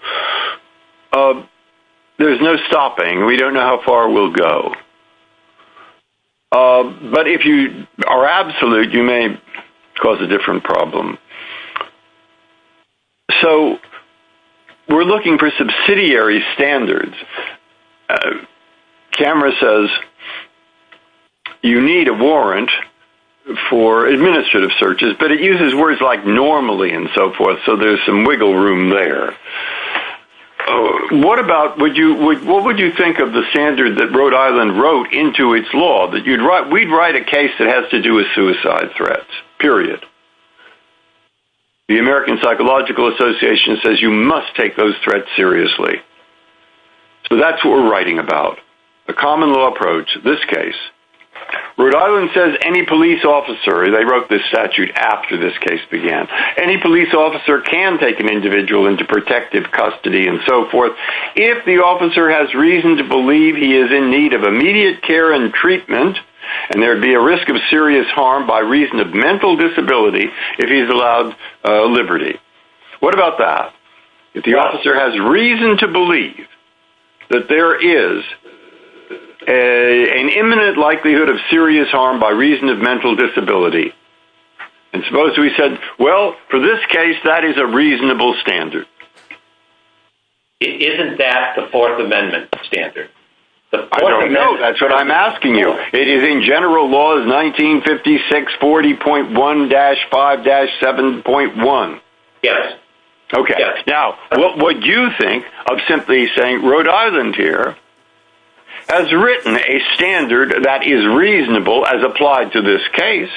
there's no stopping. We don't know how far we'll go. But if you are absolute, you may cause a different problem. So we're looking for subsidiary standards. CAMRA says you need a warrant for administrative searches, but it uses words like normally and so forth, so there's some wiggle room there. What about—what would you think of the standard that Rhode Island wrote into its law, that you'd write—we'd write a case that has to do with suicide threats, period. The American Psychological Association says you must take those threats seriously. So that's what we're writing about. The common law approach, this case. Rhode Island says any police officer—they wrote this statute after this case began—any police officer can take an individual into protective custody and so forth if the officer has reason to believe he is in need of immediate care and treatment and there'd be a risk of serious harm by reason of mental disability if he's allowed liberty. What about that? If the officer has reason to believe that there is an imminent likelihood of serious harm by reason of mental disability, and suppose we said, well, for this case, that is a reasonable standard. Isn't that the Fourth Amendment standard? I don't know. That's what I'm asking you. It is in general law is 1956 40.1-5-7.1. Yes. Okay. Now, what would you think of simply saying Rhode Island here has written a standard that is reasonable as applied to this case?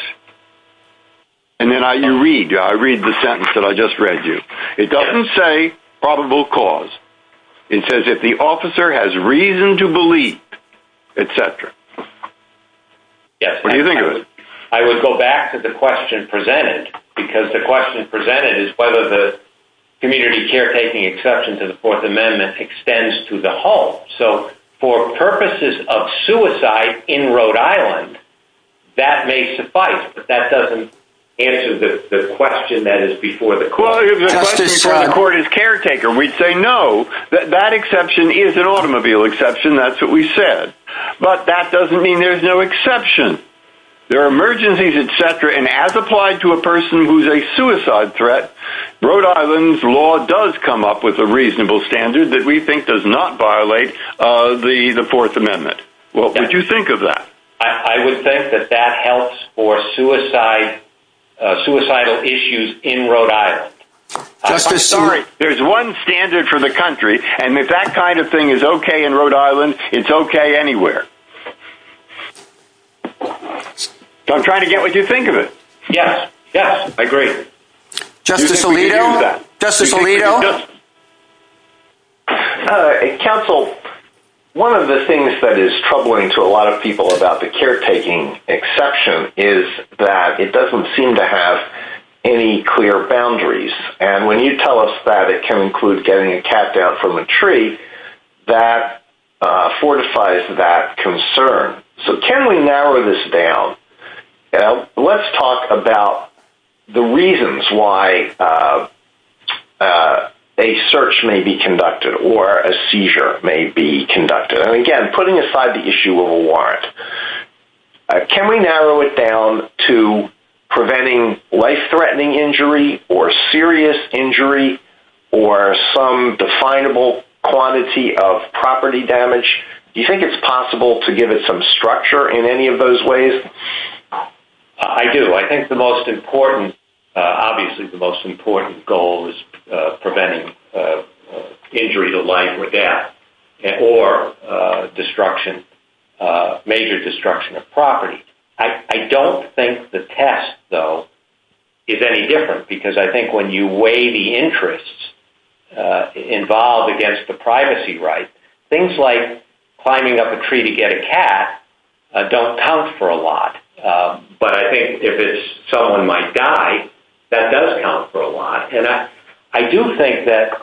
And then you read. I read the sentence that I just read you. It doesn't say probable cause. It says if the officer has reason to believe, etc. Yes. What do you think of it? I would go back to the question presented because the question presented is whether the community caretaking exception to the Fourth Amendment extends to the whole. So for purposes of suicide in Rhode Island, that may suffice. But that doesn't answer the question that is before the court. Well, if the question before the court is caretaker, we'd say no, that exception is an automobile exception. That's what we said. But that doesn't mean there's no exception. There are emergencies, etc. And as applied to a person who's a suicide threat, Rhode Island's law does come up with a reasonable standard that we think does not violate the Fourth Amendment. What would you think of that? I would think that that helps for suicidal issues in Rhode Island. There's one standard for the country. And if that kind of thing is OK in Rhode Island, it's OK anywhere. I'm trying to get what you think of it. Yes. Yes. Agree. Justice Alito. Counsel, one of the things that is troubling to a lot of people about the caretaking exception is that it doesn't seem to have any clear boundaries. And when you tell us that it can include getting a cat down from a tree, that fortifies that concern. So can we narrow this down? Now, let's talk about the reasons why a search may be conducted or a seizure may be conducted. And again, putting aside the issue of a warrant, can we narrow it down to preventing life-threatening injury or serious injury or some definable quantity of property damage? Do you think it's possible to give it some structure in any of those ways? I do. I think the most important, obviously, the most important goal is preventing injury to life or death or destruction, major destruction of property. I don't think the test, though, is any different. Because I think when you weigh the interests involved against the privacy right, things like climbing up a tree to get a cat don't count for a lot. But I think if it's someone might die, that does count for a lot. And I do think that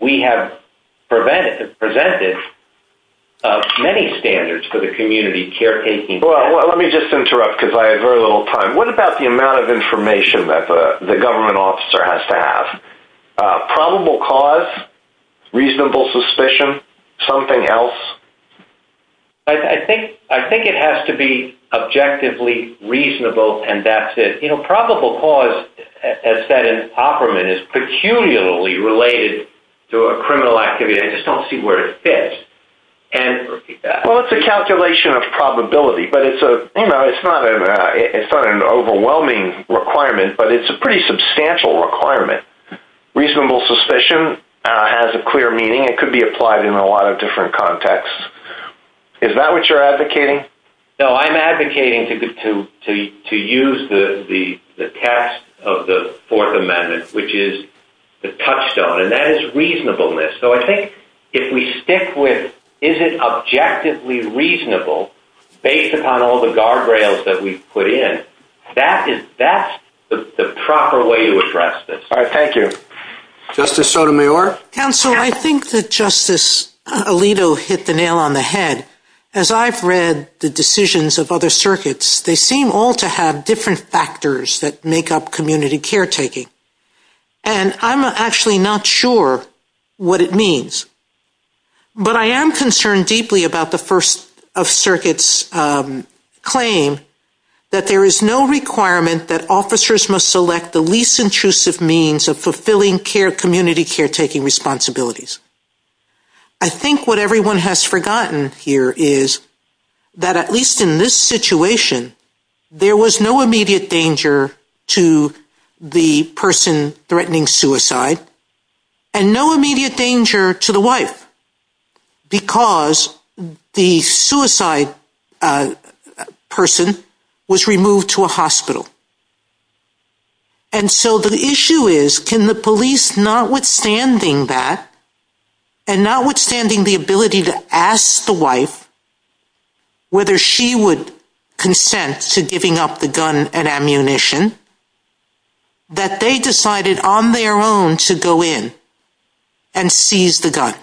we have presented many standards for the community caretaking. Well, let me just interrupt because I have very little time. What about the amount of information that the government officer has to have? Probable cause, reasonable suspicion, something else? I think it has to be objectively reasonable and that's it. You know, probable cause has been an operant, is peculiarly related to a criminal activity. I just don't see where it fits. Well, it's a calculation of probability. But it's not an overwhelming requirement, but it's a pretty substantial requirement. Reasonable suspicion has a clear meaning. It could be applied in a lot of different contexts. Is that what you're advocating? No, I'm advocating to use the text of the Fourth Amendment, which is the touchstone. And that is reasonableness. So I think if we stick with is it objectively reasonable based upon all the guardrails that we've put in, that's the proper way to address this. Thank you. Justice Sotomayor? Counsel, I think that Justice Alito hit the nail on the head. As I've read the decisions of other circuits, they seem all to have different factors that make up community caretaking. And I'm actually not sure what it means. But I am concerned deeply about the First Circuit's claim that there is no requirement that officers must select the least intrusive means of fulfilling community caretaking responsibilities. I think what everyone has forgotten here is that at least in this situation, there was no immediate danger to the person threatening suicide and no immediate danger to the wife And so the issue is, can the police, notwithstanding that, and notwithstanding the ability to ask the wife whether she would consent to giving up the gun and ammunition, that they decided on their own to go in and seize the gun?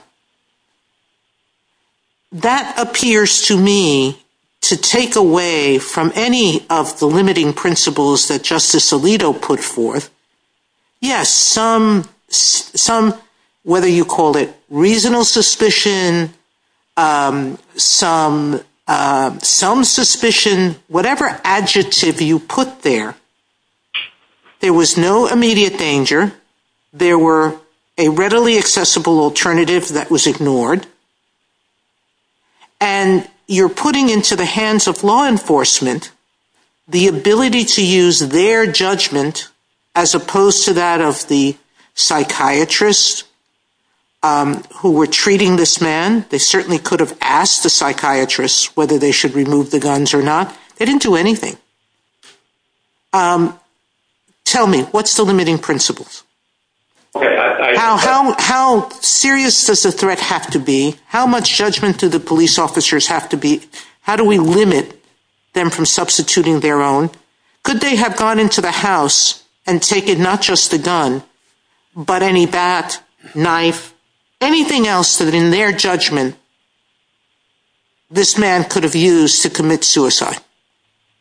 That appears to me to take away from any of the limiting principles that Justice Alito put forth. Yes, some, whether you call it reasonable suspicion, some suspicion, whatever adjective you put there, there was no immediate danger. There were a readily accessible alternative that was ignored. And you're putting into the hands of law enforcement the ability to use their judgment as opposed to that of the psychiatrists who were treating this man. They certainly could have asked the psychiatrists whether they should remove the guns or not. They didn't do anything. Tell me, what's the limiting principles? How serious does the threat have to be? How much judgment do the police officers have to be? How do we limit them from substituting their own? Could they have gone into the house and taken not just the gun, but any bat, knife, anything else that in their judgment this man could have used to commit suicide?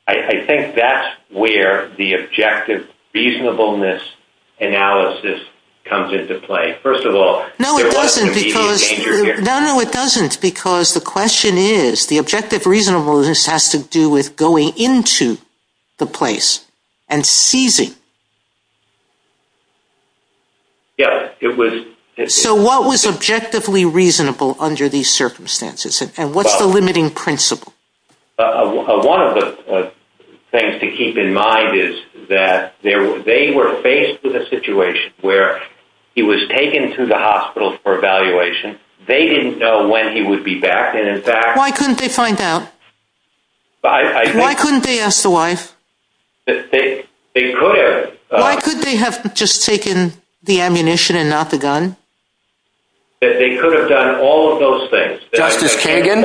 I think that's where the objective reasonableness analysis comes into play. First of all, there was no immediate danger here. No, it doesn't, because the question is, the objective reasonableness has to do with going into the place and seizing. Yes, it was. So what was objectively reasonable under these circumstances? And what's the limiting principle? One of the things to keep in mind is that they were faced with a situation where he was taken to the hospital for evaluation. They didn't know when he would be back. Why couldn't they find out? Why couldn't they ask the wife? They could have. Why could they have just taken the ammunition and not the gun? They could have done all of those things. Justice Kagan,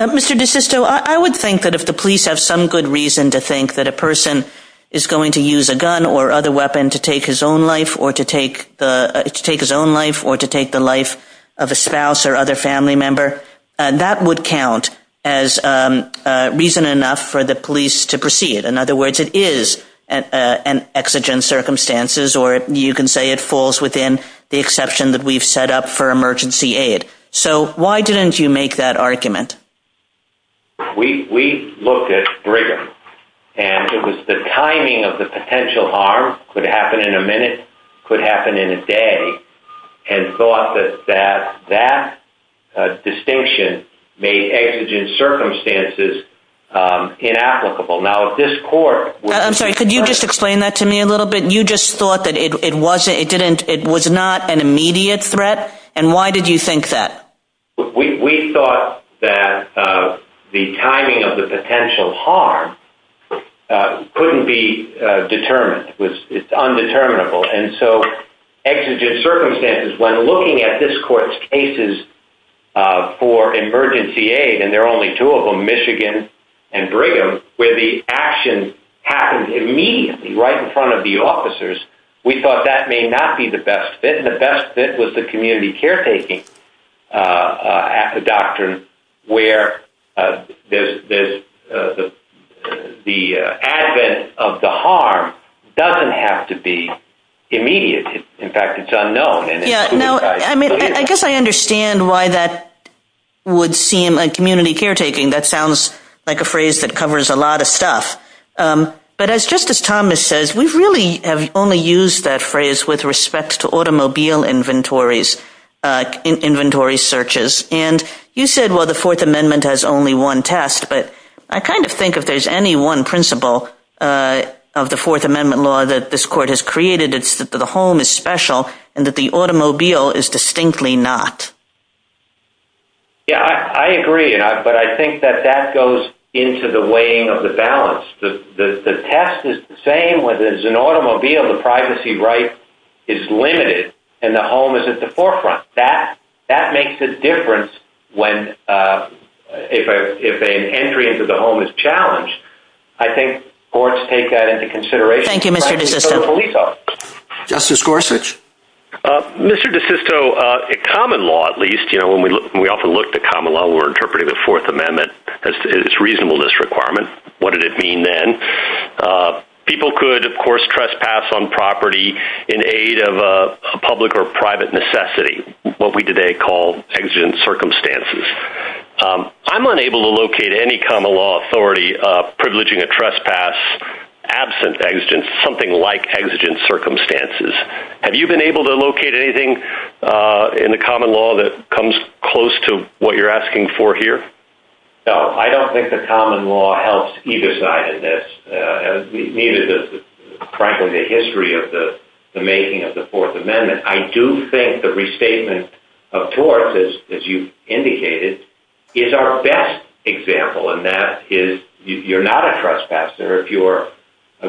I would think that if the police have some good reason to think that a person is going to use a gun or other weapon to take his own life or to take his own life or to take the life of a spouse or other family member, that would count as reason enough for the police to proceed. In other words, it is an exigent circumstances, or you can say it falls within the exception that we've set up for emergency aid. So why didn't you make that argument? We looked at Brigham, and it was the timing of the potential harm, could happen in a minute, could happen in a day, and thought that that distinction made exigent circumstances inapplicable. Now, if this court— I'm sorry, could you just explain that to me a little bit? You just thought that it was not an immediate threat? And why did you think that? We thought that the timing of the potential harm couldn't be determined. It's undeterminable. And so exigent circumstances, when looking at this court's cases for emergency aid, and there are only two of them, Michigan and Brigham, where the action happened immediately, right in front of the officers, we thought that may not be the best fit. The best fit was the community caretaking doctrine, where the advent of the harm doesn't have to be immediate. In fact, it's unknown. I guess I understand why that would seem like community caretaking. That sounds like a phrase that covers a lot of stuff. But as Justice Thomas says, we've really only used that phrase with respect to automobile inventories—inventory searches. And you said, well, the Fourth Amendment has only one test. But I kind of think if there's any one principle of the Fourth Amendment law that this court has created, it's that the home is special and that the automobile is distinctly not. Yeah, I agree. But I think that that goes into the weighing of the balance. The test is the same. Whether it's an automobile, the privacy right is limited, and the home is at the forefront. That makes a difference if an entry into the home is challenged. I think courts take that into consideration. Thank you, Mr. DeSisto. Justice Gorsuch. Mr. DeSisto, common law, at least, you know, when we often look at common law, we're interpreting the Fourth Amendment as its reasonableness requirement. What did it mean then? People could, of course, trespass on property in aid of a public or private necessity, what we today call exigent circumstances. I'm unable to locate any common law authority privileging a trespass absent something like exigent circumstances. Have you been able to locate anything in the common law that comes close to what you're here? No, I don't think the common law helps either side of this. We needed to pressure the history of the making of the Fourth Amendment. I do think the restatement of torts, as you indicated, is our best example, and that is you're not a trespasser if you're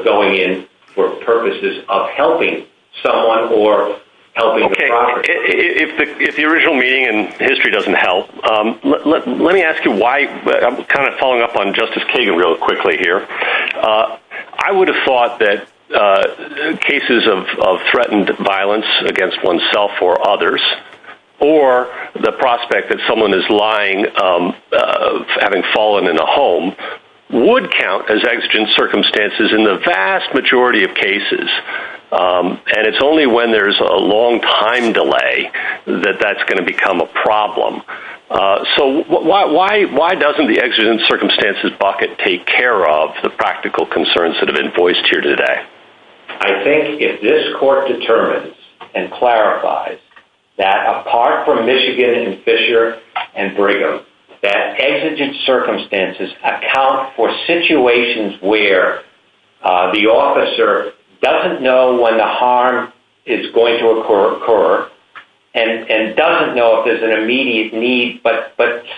going in for purposes of helping someone or helping the driver. If the original meaning and history doesn't help, let me ask you why I'm kind of following up on Justice Kagan real quickly here. I would have thought that cases of threatened violence against oneself or others or the prospect that someone is lying, having fallen in a home, would count as exigent circumstances in the vast majority of cases. And it's only when there's a long time delay that that's going to become a problem. So why doesn't the exigent circumstances bucket take care of the practical concerns that have been voiced here today? I think if this Court determines and clarifies that apart from Michigan and Fisher and Brigham, that exigent circumstances account for situations where the officer doesn't know when the harm is going to occur and doesn't know if there's an immediate need, but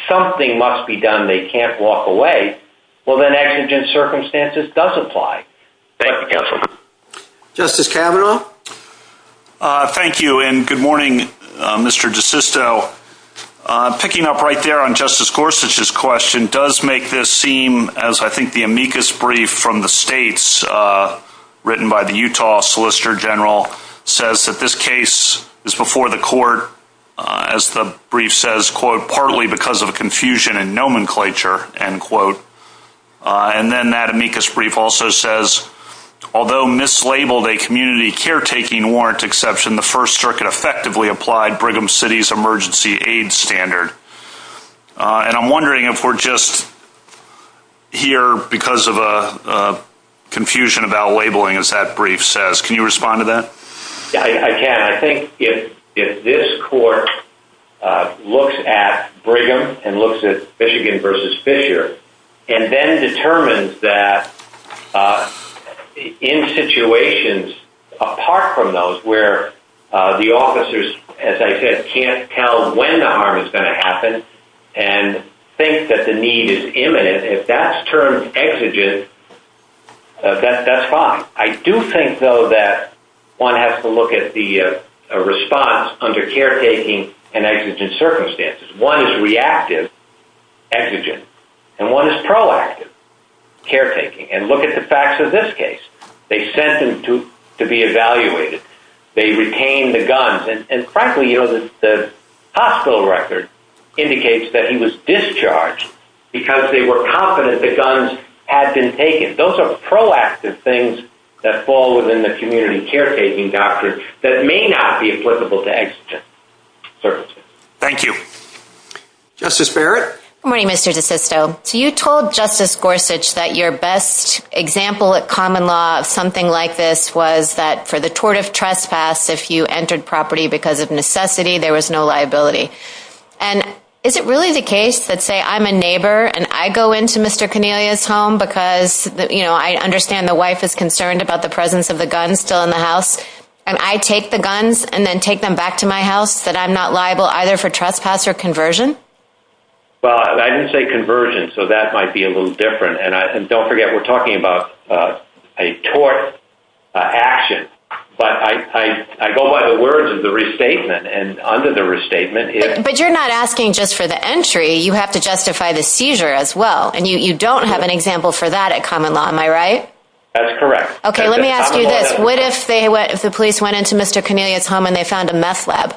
something must be done. They can't walk away. Well, then exigent circumstances does apply. Thank you, counsel. Justice Kavanaugh? Thank you, and good morning, Mr. DeSisto. Picking up right there on Justice Gorsuch's question does make this seem, as I think the amicus brief from the states, written by the Utah Solicitor General, says that this case is before the Court, as the brief says, quote, partly because of a confusion in nomenclature, end quote. And then that amicus brief also says, although mislabeled a community caretaking warrant exception, the First Circuit effectively applied Brigham City's emergency aid standard. And I'm wondering if we're just here because of a confusion about labeling, as that brief says. Can you respond to that? Yeah, I can. I think if this Court looks at Brigham and looks at Michigan versus Fisher and then determines that in situations apart from those where the officers, as I said, can't tell when the harm is going to happen and think that the need is imminent, if that's termed exigent, that's fine. I do think, though, that one has to look at the response under caretaking and exigent circumstances. One is reactive, exigent, and one is proactive. And look at the facts of this case. They sent him to be evaluated. They retained the guns. And frankly, the hospital record indicates that he was discharged because they were confident the guns had been taken. Those are proactive things that fall within the community caretaking doctrine that may not be applicable to exigent circumstances. Thank you. Justice Barrett? Good morning, Mr. DeSisto. You told Justice Gorsuch that your best example at common law of something like this was that for the tort of trespass, if you entered property because of necessity, there was no liability. And is it really the case that, say, I'm a neighbor and I go into Mr. Cornelia's home because I understand the wife is concerned about the presence of the guns still in the house, and I take the guns and then take them back to my house, that I'm not liable either for trespass or conversion? Well, I didn't say conversion, so that might be a little different. And don't forget, we're talking about a tort action. But I go by the words of the restatement. And under the restatement, if— But you're not asking just for the entry. You have to justify the seizure as well. And you don't have an example for that at common law, am I right? That's correct. Okay, let me ask you this. What if the police went into Mr. Cornelia's home and they found a meth lab?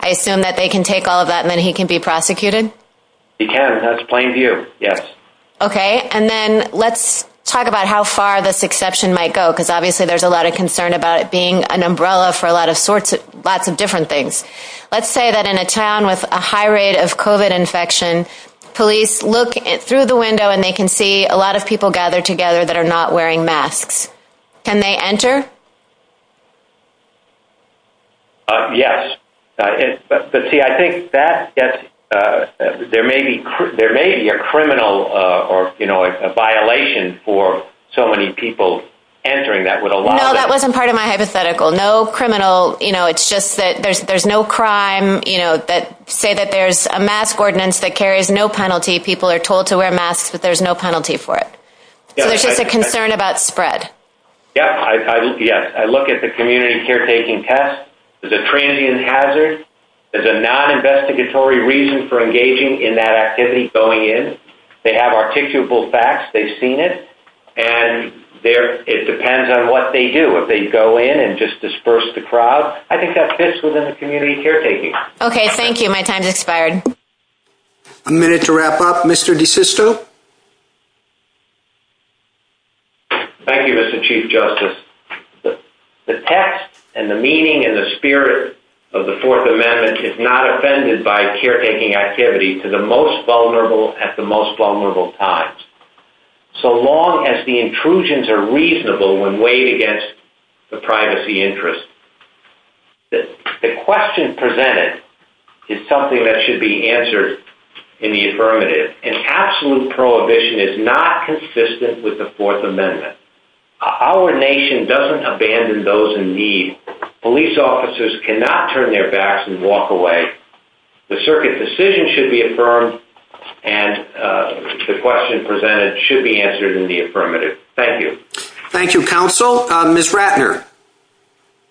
I assume that they can take all of that and then he can be prosecuted? He can. That's plain view. Yes. Okay. And then let's talk about how far this exception might go, because obviously there's a lot of concern about it being an umbrella for a lot of sorts of—lots of different things. Let's say that in a town with a high rate of COVID infection, police look through the window and they can see a lot of people gathered together that are not wearing masks. Can they enter? Yes. But see, I think that gets—there may be a criminal or, you know, a violation for so many people entering that would allow— No, that wasn't part of my hypothetical. No criminal, you know, it's just that there's no crime, you know, that—say that there's a mask ordinance that carries no penalty, people are told to wear masks, that there's no penalty for it. So there's just a concern about spread. Yeah, I look—yes, I look at the community caretaking test. There's a transient hazard. There's a non-investigatory reason for engaging in that activity going in. They have articulable facts. They've seen it. And there—it depends on what they do. If they go in and just disperse the crowd, I think that fits within the community caretaking. Okay. Thank you. My time's expired. A minute to wrap up. Mr. DeSisto? Thank you, Mr. Chief Justice. The text and the meaning and the spirit of the Fourth Amendment is not offended by caretaking activity to the most vulnerable at the most vulnerable times. So long as the intrusions are reasonable when weighed against the privacy interest, the question presented is something that should be answered in the affirmative. An absolute prohibition is not consistent with the Fourth Amendment. Our nation doesn't abandon those in need. Police officers cannot turn their backs and walk away. The circuit decision should be affirmed, and the question presented should be answered in the affirmative. Thank you. Thank you, counsel. Ms. Ratner?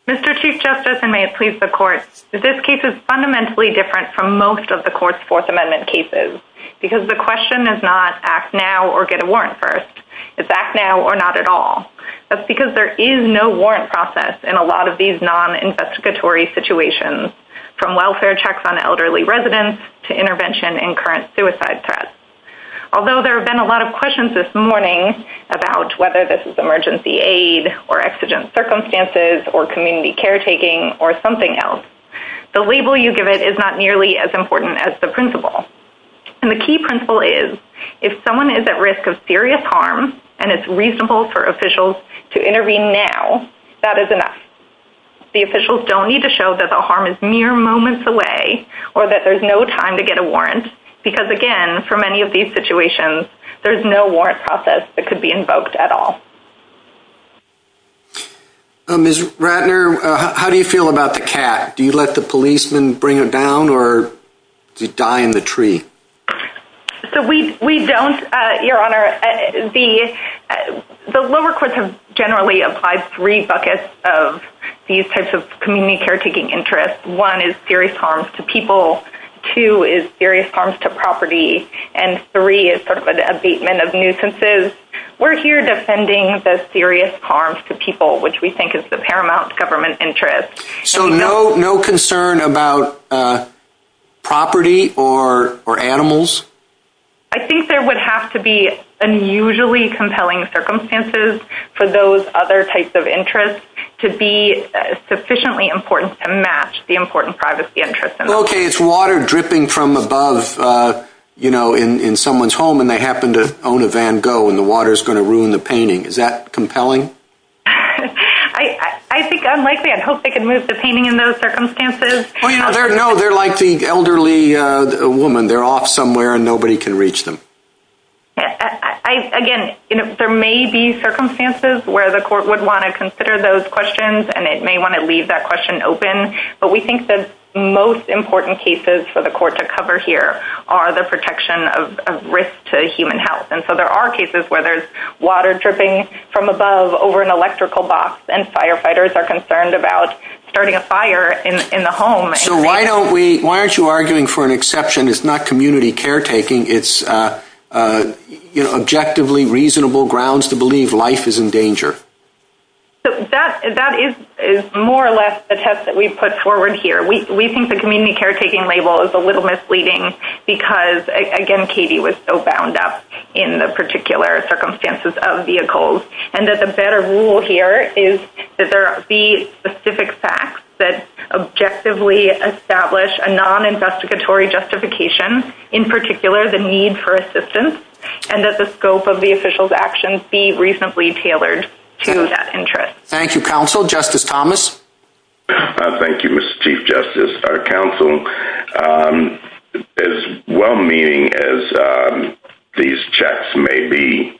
Mr. Chief Justice, and may it please the Court, this case is fundamentally different from most of the Court's Fourth Amendment cases, because the question is not act now or get a warrant first. It's act now or not at all. That's because there is no warrant process in a lot of these non-investigatory situations, from welfare checks on elderly residents to intervention in current suicide threats. Although there have been a lot of questions this morning about whether this is emergency aid or exigent circumstances or community caretaking or something else, the label you give it is not nearly as important as the principle. The key principle is, if someone is at risk of serious harm and it's reasonable for officials to intervene now, that is enough. The officials don't need to show that the harm is mere moments away or that there's no time to get a warrant, because again, for many of these situations, there's no warrant process that could be invoked at all. Ms. Ratner, how do you feel about the CAT? Do you let the policemen bring it down, or do you die in the tree? So we don't, Your Honor. The lower courts have generally applied three buckets of these types of community caretaking interests. One is serious harm to people, two is serious harm to property, and three is sort of an abatement of nuisances. We're here defending the serious harm to people, which we think is the paramount government interest. So no concern about property or animals? I think there would have to be unusually compelling circumstances for those other types of interests to be sufficiently important to match the important privacy interests. Okay, it's water dripping from above, you know, in someone's home and they happen to own a Van Gogh and the water is going to ruin the painting. Is that compelling? I think unlikely, I'd hope they could move the painting in those circumstances. No, they're like the elderly woman, they're off somewhere and nobody can reach them. Again, there may be circumstances where the court would want to consider those questions and it may want to leave that question open, but we think that most important cases for the court to cover here are the protection of risk to human health. There are cases where there's water dripping from above over an electrical box and firefighters are concerned about starting a fire in the home. Why aren't you arguing for an exception? It's not community caretaking. It's objectively reasonable grounds to believe life is in danger. That is more or less a test that we've put forward here. We think the community caretaking label is a little misleading because again, Katie was so bound up in the particular circumstances of vehicles and that the better rule here is that there be specific facts that objectively establish a non-investigatory justification, in particular, the need for assistance and that the scope of the official's actions be reasonably tailored to that interest. Thank you, counsel. Justice Thomas. Thank you, Mr. Chief Justice. Our counsel, as well-meaning as these checks may be,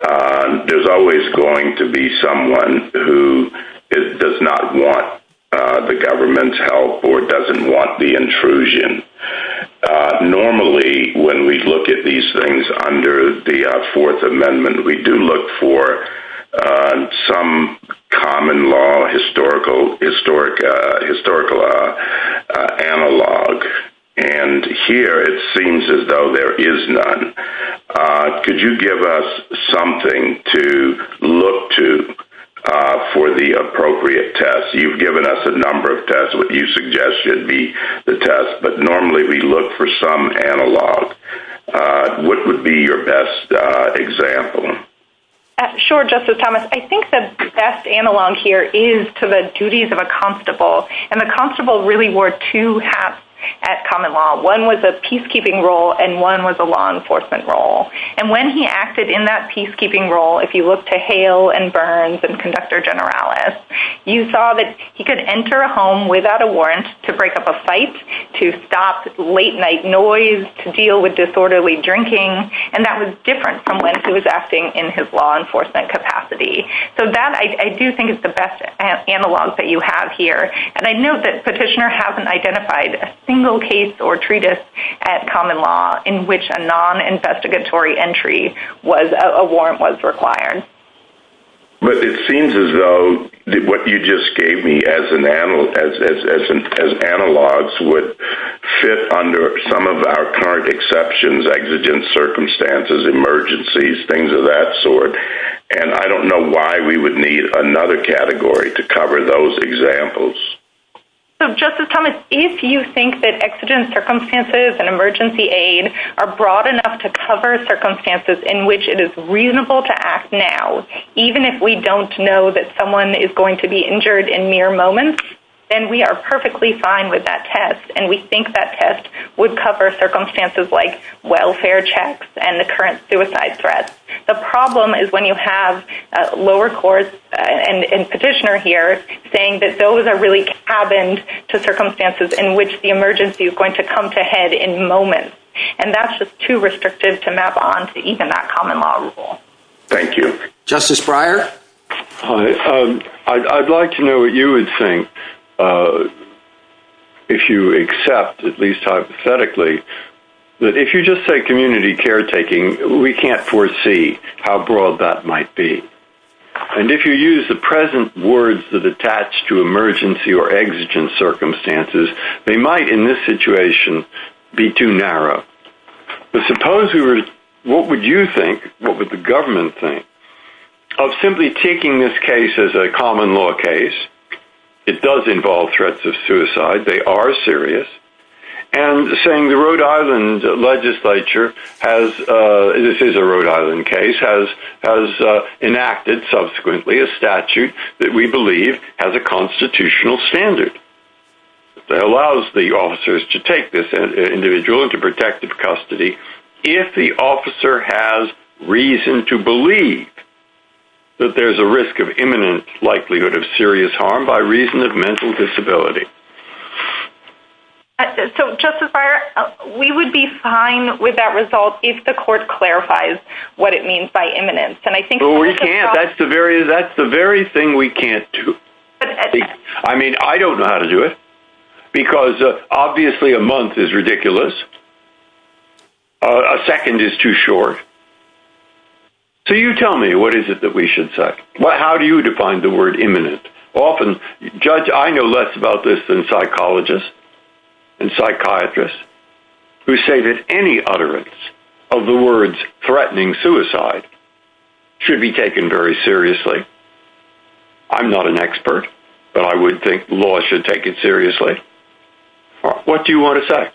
there's always going to be someone who does not want the government's help or doesn't want the intrusion. Normally, when we look at these things under the Fourth Amendment, we do look for some common law historical analog. Here, it seems as though there is none. Could you give us something to look to for the appropriate test? You've given us a number of tests. What you suggest should be the test, but normally, we look for some analog. What would be your best example? Sure, Justice Thomas. I think the best analog here is to the duties of a constable. A constable really wore two hats at common law. One was a peacekeeping role and one was a law enforcement role. When he acted in that peacekeeping role, if you look to Hale and Burns and Conductor Generalis, you saw that he could enter a home without a warrant to break up a fight, to stop late night noise, to deal with disorderly drinking, and that was different from when he was acting in his law enforcement capacity. So that, I do think, is the best analog that you have here. And I note that Petitioner hasn't identified a single case or treatise at common law in which a non-investigatory entry, a warrant was required. But it seems as though what you just gave me as analogs would fit under some of our current exceptions, exigent circumstances, emergencies, things of that sort. And I don't know why we would need another category to cover those examples. So Justice Thomas, if you think that exigent circumstances and emergency aid are broad enough to cover circumstances in which it is reasonable to act now, even if we don't know that someone is going to be injured in mere moments, then we are perfectly fine with that test, and we think that test would cover circumstances like welfare checks and the current suicide threat. The problem is when you have lower courts and Petitioner here saying that those are really cabined to circumstances in which the emergency is going to come to head in moments. And that's just too restrictive to map on to even that common law rule. Thank you. Justice Breyer? Hi. I'd like to know what you would think, if you accept, at least hypothetically, that if you just say community caretaking, we can't foresee how broad that might be. And if you use the present words that attach to emergency or exigent circumstances, they might, in this situation, be too narrow. But suppose we were, what would you think, what would the government think, of simply taking this case as a common law case, it does involve threats of suicide, they are serious, and saying the Rhode Island legislature has, this is a Rhode Island case, has enacted subsequently a statute that we believe has a constitutional standard that allows the custody, if the officer has reason to believe that there's a risk of imminent likelihood of serious harm by reason of mental disability. So, Justice Breyer, we would be fine with that result if the court clarifies what it means by imminence. But we can't, that's the very thing we can't do. I mean, I don't know how to do it. Because obviously a month is ridiculous. A second is too short. So you tell me, what is it that we should say? How do you define the word imminent? Often, Judge, I know less about this than psychologists and psychiatrists, who say that any utterance of the words threatening suicide should be taken very seriously. I'm not an expert, but I would think law should take it seriously. What do you want to say?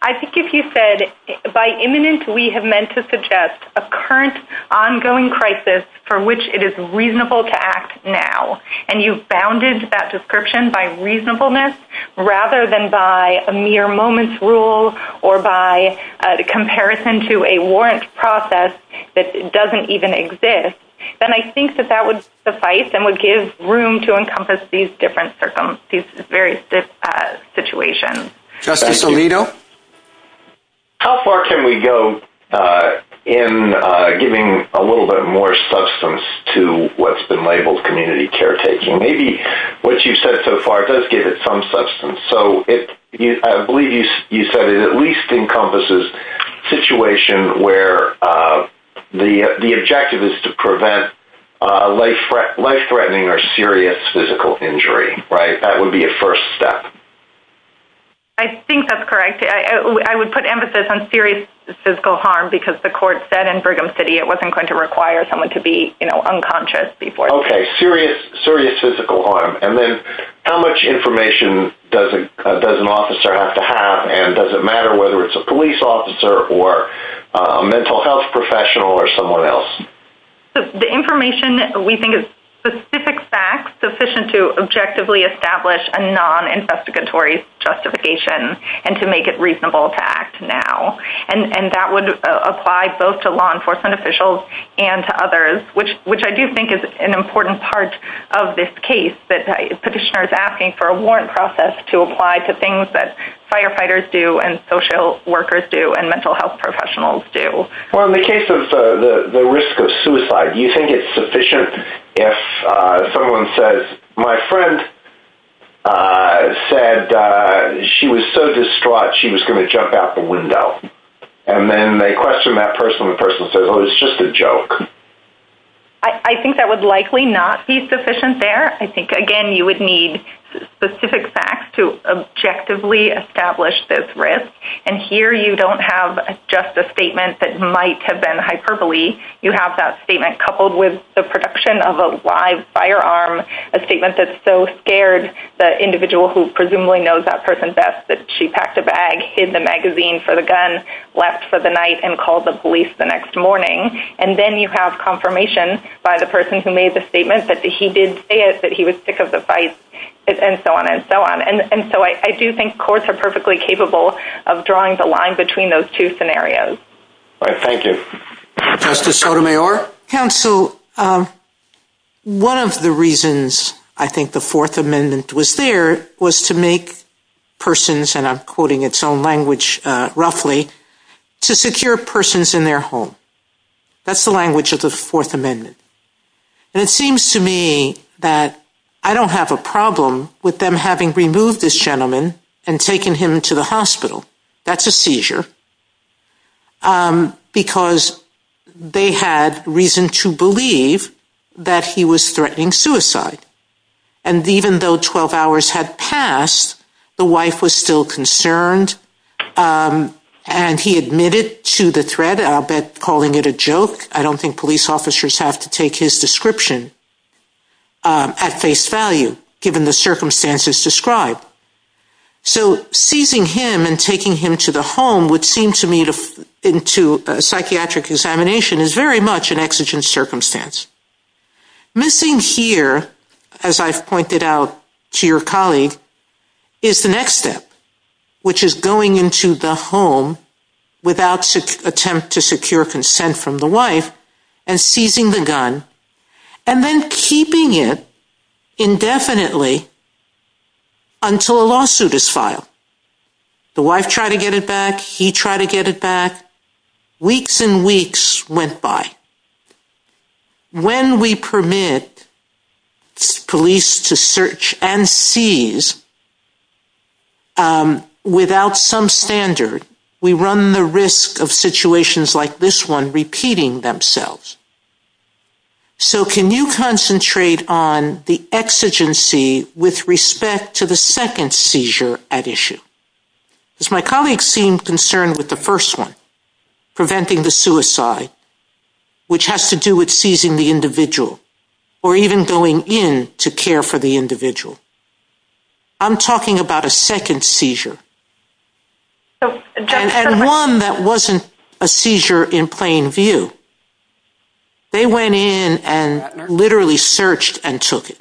I think if you said, by imminent, we have meant to suggest a current, ongoing crisis for which it is reasonable to act now, and you've bounded that description by reasonableness rather than by a mere moment's rule or by comparison to a warrant process that doesn't even exist, then I think that that would suffice and would give room to encompass these different very stiff situations. Justice Alito? How far can we go in giving a little bit more substance to what's been labeled community caretaking? Maybe what you've said so far does give it some substance. So I believe you said it at least encompasses a situation where the objective is to prevent life-threatening or serious physical injury. That would be a first step. I think that's correct. I would put emphasis on serious physical harm because the court said in Brigham City it wasn't going to require someone to be unconscious before. Okay, serious physical harm. And then how much information does an officer have to have? And does it matter whether it's a police officer or a mental health professional or someone else? The information we think is specific facts sufficient to objectively establish a non-investigatory justification and to make it reasonable to act now. And that would apply both to law enforcement officials and to others, which I do think is an important part of this case that the petitioner is asking for a warrant process to apply to things that firefighters do and social workers do and mental health professionals do. Well, in the case of the risk of suicide, do you think it's sufficient if someone says, my friend said she was so distraught she was going to jump out the window? And then they question that person and the person says, oh, it's just a joke. I think that would likely not be sufficient there. I think, again, you would need specific facts to objectively establish this risk. And here you don't have just a statement that might have been hyperbole. You have that statement coupled with the production of a live firearm, a statement that's so scared the individual who presumably knows that person best that she packed a bag, hid the magazine for the gun, left for the night, and called the police the next morning. And then you have confirmation by the person who made the statement that he did say it, that he was sick of the fight, and so on and so on. And so I do think courts are perfectly capable of drawing the line between those two scenarios. All right, thank you. Justice Sotomayor? Counsel, one of the reasons I think the Fourth Amendment was there was to make persons, and I'm quoting its own language roughly, to secure persons in their home. That's the language of the Fourth Amendment. And it seems to me that I don't have a problem with them having removed this gentleman and taken him to the hospital. That's a seizure. Because they had reason to believe that he was threatening suicide. And even though 12 hours had passed, the wife was still concerned. And he admitted to the threat, I'll bet calling it a joke. I don't think police officers have to take his description at face value, given the circumstances described. So seizing him and taking him to the home would seem to me into a psychiatric examination is very much an exigent circumstance. Missing here, as I've pointed out to your colleague, is the next step, which is going into the home without attempt to secure consent from the wife and seizing the gun and then keeping it indefinitely until a lawsuit is filed. The wife tried to get it back. He tried to get it back. Weeks and weeks went by. When we permit police to search and seize without some standard, we run the risk of situations like this one repeating themselves. So can you concentrate on the exigency with respect to the second seizure at issue? Because my colleague seemed concerned with the first one, preventing the suicide, which has to do with seizing the individual or even going in to care for the individual. I'm talking about a second seizure. And one that wasn't a seizure in plain view. They went in and literally searched and took it.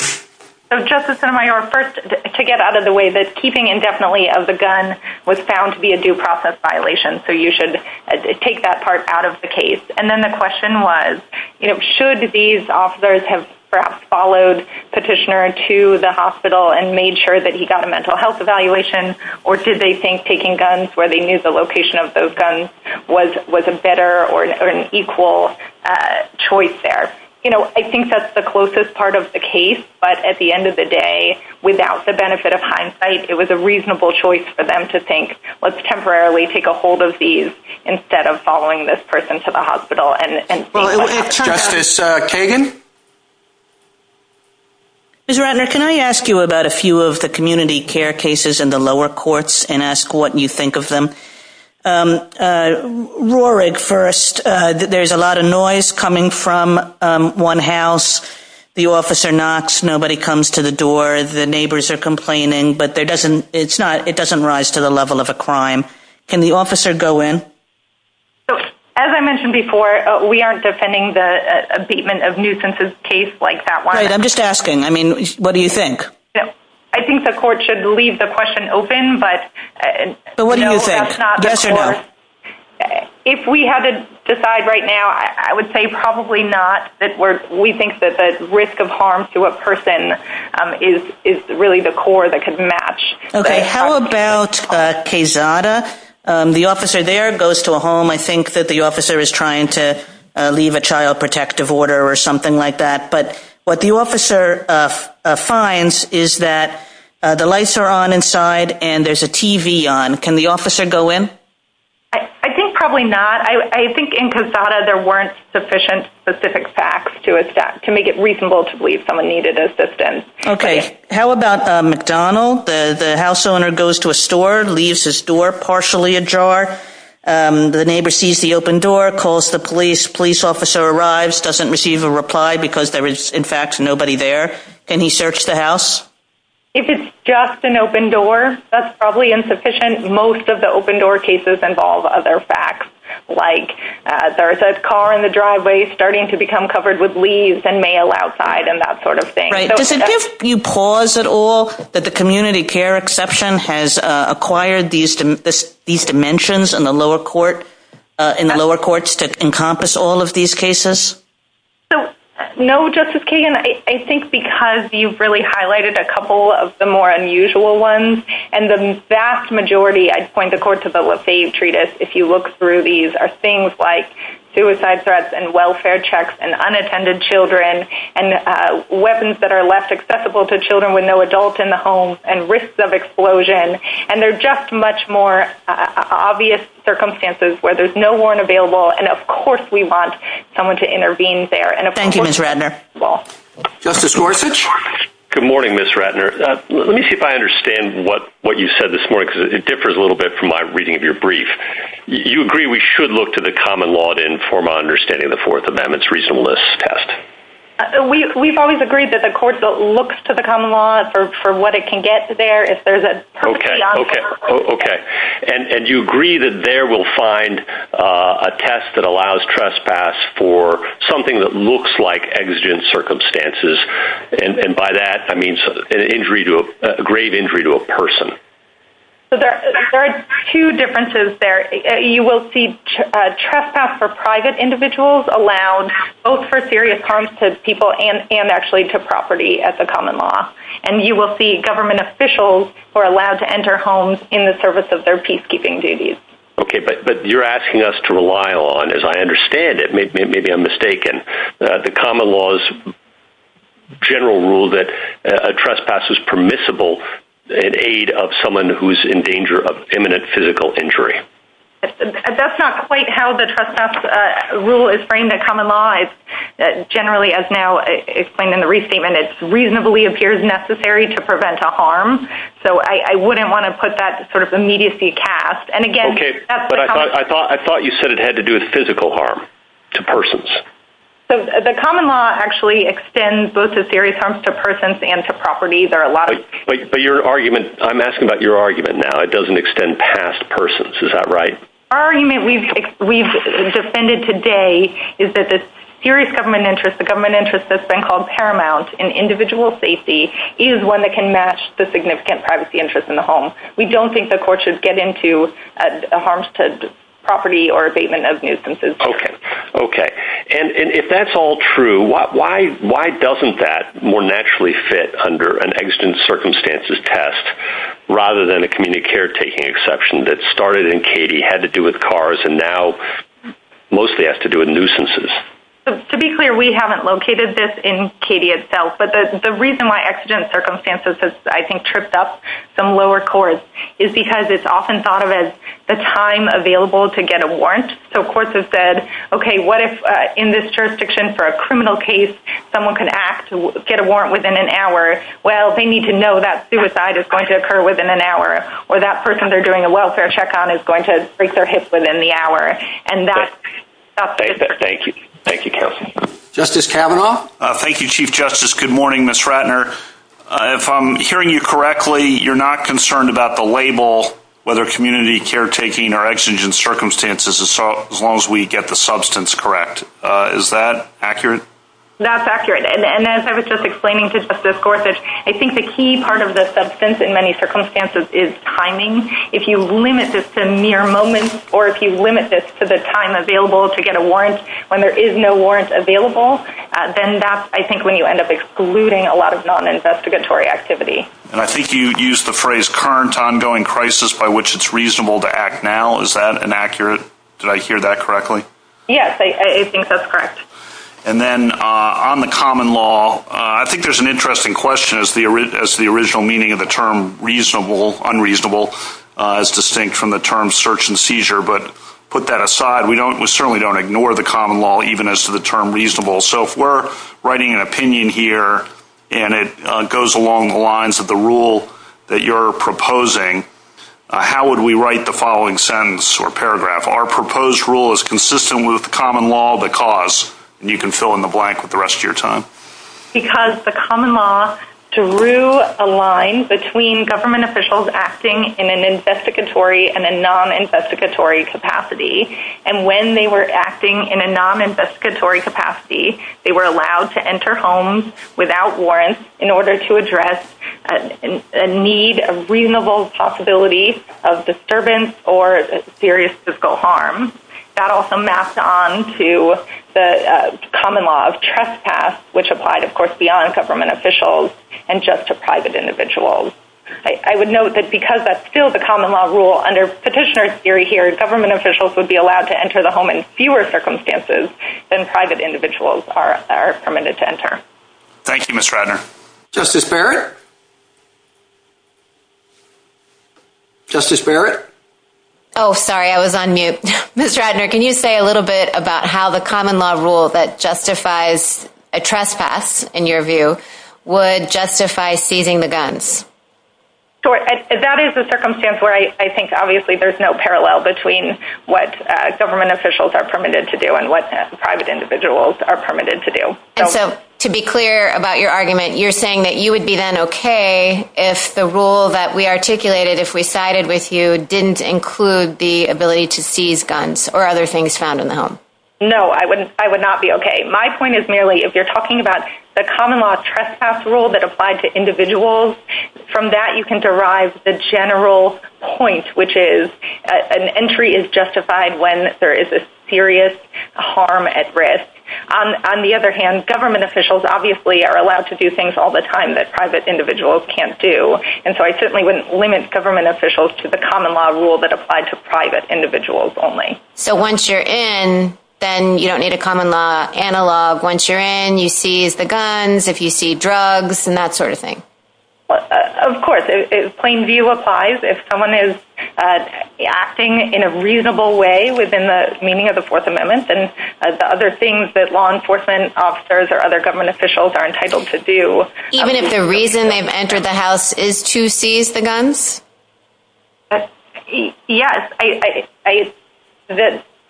So Justice Sotomayor, first to get out of the way that keeping indefinitely of the gun was found to be a due process violation. So you should take that part out of the case. And then the question was, should these officers have perhaps followed Petitioner to the hospital and made sure that he got a mental health evaluation or did they think taking guns where they knew the location of those guns was a better or an equal choice there? I think that's the closest part of the case. But at the end of the day, without the benefit of hindsight, it was a reasonable choice for them to think, let's temporarily take a hold of these instead of following this person to the hospital. And Justice Kagan? Ms. Ratner, can I ask you about a few of the community care cases in the lower courts and ask what you think of them? Roar it first. There's a lot of noise coming from one house. The officer knocks. Nobody comes to the door. The neighbors are complaining. But it doesn't rise to the level of a crime. Can the officer go in? As I mentioned before, we aren't defending the abatement of nuisances case like that one. I'm just asking. I mean, what do you think? I think the court should leave the question open. But what do you think? If we had to decide right now, I would say probably not. We think that the risk of harm to a person is really the core that could match. Okay. How about Quezada? The officer there goes to a home. I think that the officer is trying to leave a child protective order or something like that. But what the officer finds is that the lights are on inside and there's a TV on. Can the officer go in? I think probably not. I think in Quezada, there weren't sufficient specific facts to make it reasonable to believe someone needed assistance. Okay. How about McDonald? The house owner goes to a store, leaves his door partially ajar. The neighbor sees the open door, calls the police. Police officer arrives, doesn't receive a reply because there is, in fact, nobody there. Can he search the house? If it's just an open door, that's probably insufficient. Most of the open door cases involve other facts. Like there's a car in the driveway starting to become covered with leaves and mail outside and that sort of thing. Right. Does it give you pause at all that the community care exception has acquired these dimensions in the lower courts to encompass all of these cases? No, Justice Kagan. I think because you've really highlighted a couple of the more unusual ones. The vast majority, I'd point the court to the Lafayette Treatise if you look through these, are things like suicide threats and welfare checks and unattended children and weapons that are left accessible to children with no adults in the home and risks of explosion. They're just much more obvious circumstances where there's no warrant available. Of course, we want someone to intervene there. Thank you, Ms. Ratner. Justice Gorsuch? Good morning, Ms. Ratner. Let me see if I understand what you said this morning because it differs a little bit from my reading of your brief. You agree we should look to the common law to inform our understanding of the Fourth Amendment's reasonableness test? We've always agreed that the court looks to the common law for what it can get there. If there's a... Okay, and you agree that there we'll find a test that allows trespass for something that looks like exigent circumstances. And by that, I mean a grave injury to a person. So there are two differences there. You will see trespass for private individuals allowed both for serious harm to people and actually to property at the common law. And you will see government officials who are allowed to enter homes in the service of their peacekeeping duties. Okay, but you're asking us to rely on, as I understand it, maybe I'm mistaken, the common law's general rule that a trespass is permissible in aid of someone who's in danger of imminent physical injury. That's not quite how the trespass rule is framed at common law. Generally, as now explained in the restatement, it reasonably appears necessary to prevent a harm. So I wouldn't want to put that sort of immediacy cast. And again, that's the common law. I thought you said it had to do with physical harm to persons. So the common law actually extends both to serious harm to persons and to property. There are a lot of- Wait, but your argument, I'm asking about your argument now. It doesn't extend past persons. Is that right? Our argument we've defended today is that the serious government interest, the government interest that's been called paramount in individual safety is one that can match the significant privacy interest in the home. We don't think the court should get into a harms to property or abatement of nuisances. Okay. And if that's all true, why doesn't that more naturally fit under an exigent circumstances test rather than a community caretaking exception that started in Cady had to do with cars and now mostly has to do with nuisances? To be clear, we haven't located this in Cady itself. But the reason why exigent circumstances has, I think, tripped up some lower courts is because it's often thought of as the time available to get a warrant. So courts have said, okay, what if in this jurisdiction for a criminal case, someone could act to get a warrant within an hour? Well, they need to know that suicide is going to occur within an hour or that person they're doing a welfare check on is going to break their hips within the hour. And that's- Thank you. Thank you, Kelsey. Justice Kavanaugh. Thank you, Chief Justice. Good morning, Ms. Ratner. If I'm hearing you correctly, you're not concerned about the label, whether community caretaking or exigent circumstances as long as we get the substance correct. Is that accurate? That's accurate. And as I was just explaining to Justice Gorsuch, I think the key part of the substance in many circumstances is timing. If you limit this to mere moments or if you limit this to the time available to get a warrant when there is no warrant available, then that's, I think, when you end up excluding a lot of non-investigatory activity. And I think you used the phrase current ongoing crisis by which it's reasonable to act now. Is that inaccurate? Did I hear that correctly? Yes, I think that's correct. And then on the common law, I think there's an interesting question as the original meaning of the term reasonable, unreasonable is distinct from the term search and seizure. But put that aside, we certainly don't ignore the common law even as to the term reasonable. So if we're writing an opinion here and it goes along the lines of the rule that you're proposing, how would we write the following sentence or paragraph? Our proposed rule is consistent with the common law because, and you can fill in the blank with the rest of your time. Because the common law drew a line between government officials acting in an investigatory and a non-investigatory capacity. And when they were acting in a non-investigatory capacity, they were allowed to enter homes without warrants in order to address a need, a reasonable possibility of disturbance or serious physical harm. That also maps on to the common law of trespass, which applied, of course, beyond government officials and just to private individuals. I would note that because that's still the common law rule under petitioner's theory government officials would be allowed to enter the home in fewer circumstances than private individuals are permitted to enter. Thank you, Ms. Radner. Justice Barrett? Justice Barrett? Oh, sorry, I was on mute. Ms. Radner, can you say a little bit about how the common law rule that justifies a trespass in your view would justify seizing the guns? Sure. That is the circumstance where I think obviously there's no parallel between what government officials are permitted to do and what private individuals are permitted to do. And so to be clear about your argument, you're saying that you would be then okay if the rule that we articulated, if we sided with you, didn't include the ability to seize guns or other things found in the home? No, I would not be okay. My point is merely if you're talking about the common law trespass rule that applied to from that you can derive the general point, which is an entry is justified when there is a serious harm at risk. On the other hand, government officials obviously are allowed to do things all the time that private individuals can't do. And so I certainly wouldn't limit government officials to the common law rule that applied to private individuals only. So once you're in, then you don't need a common law analog. Once you're in, you seize the guns, if you see drugs and that sort of thing. Of course, plain view applies if someone is acting in a reasonable way within the meaning of the Fourth Amendment and the other things that law enforcement officers or other government officials are entitled to do. Even if the reason they've entered the house is to seize the guns? Yes.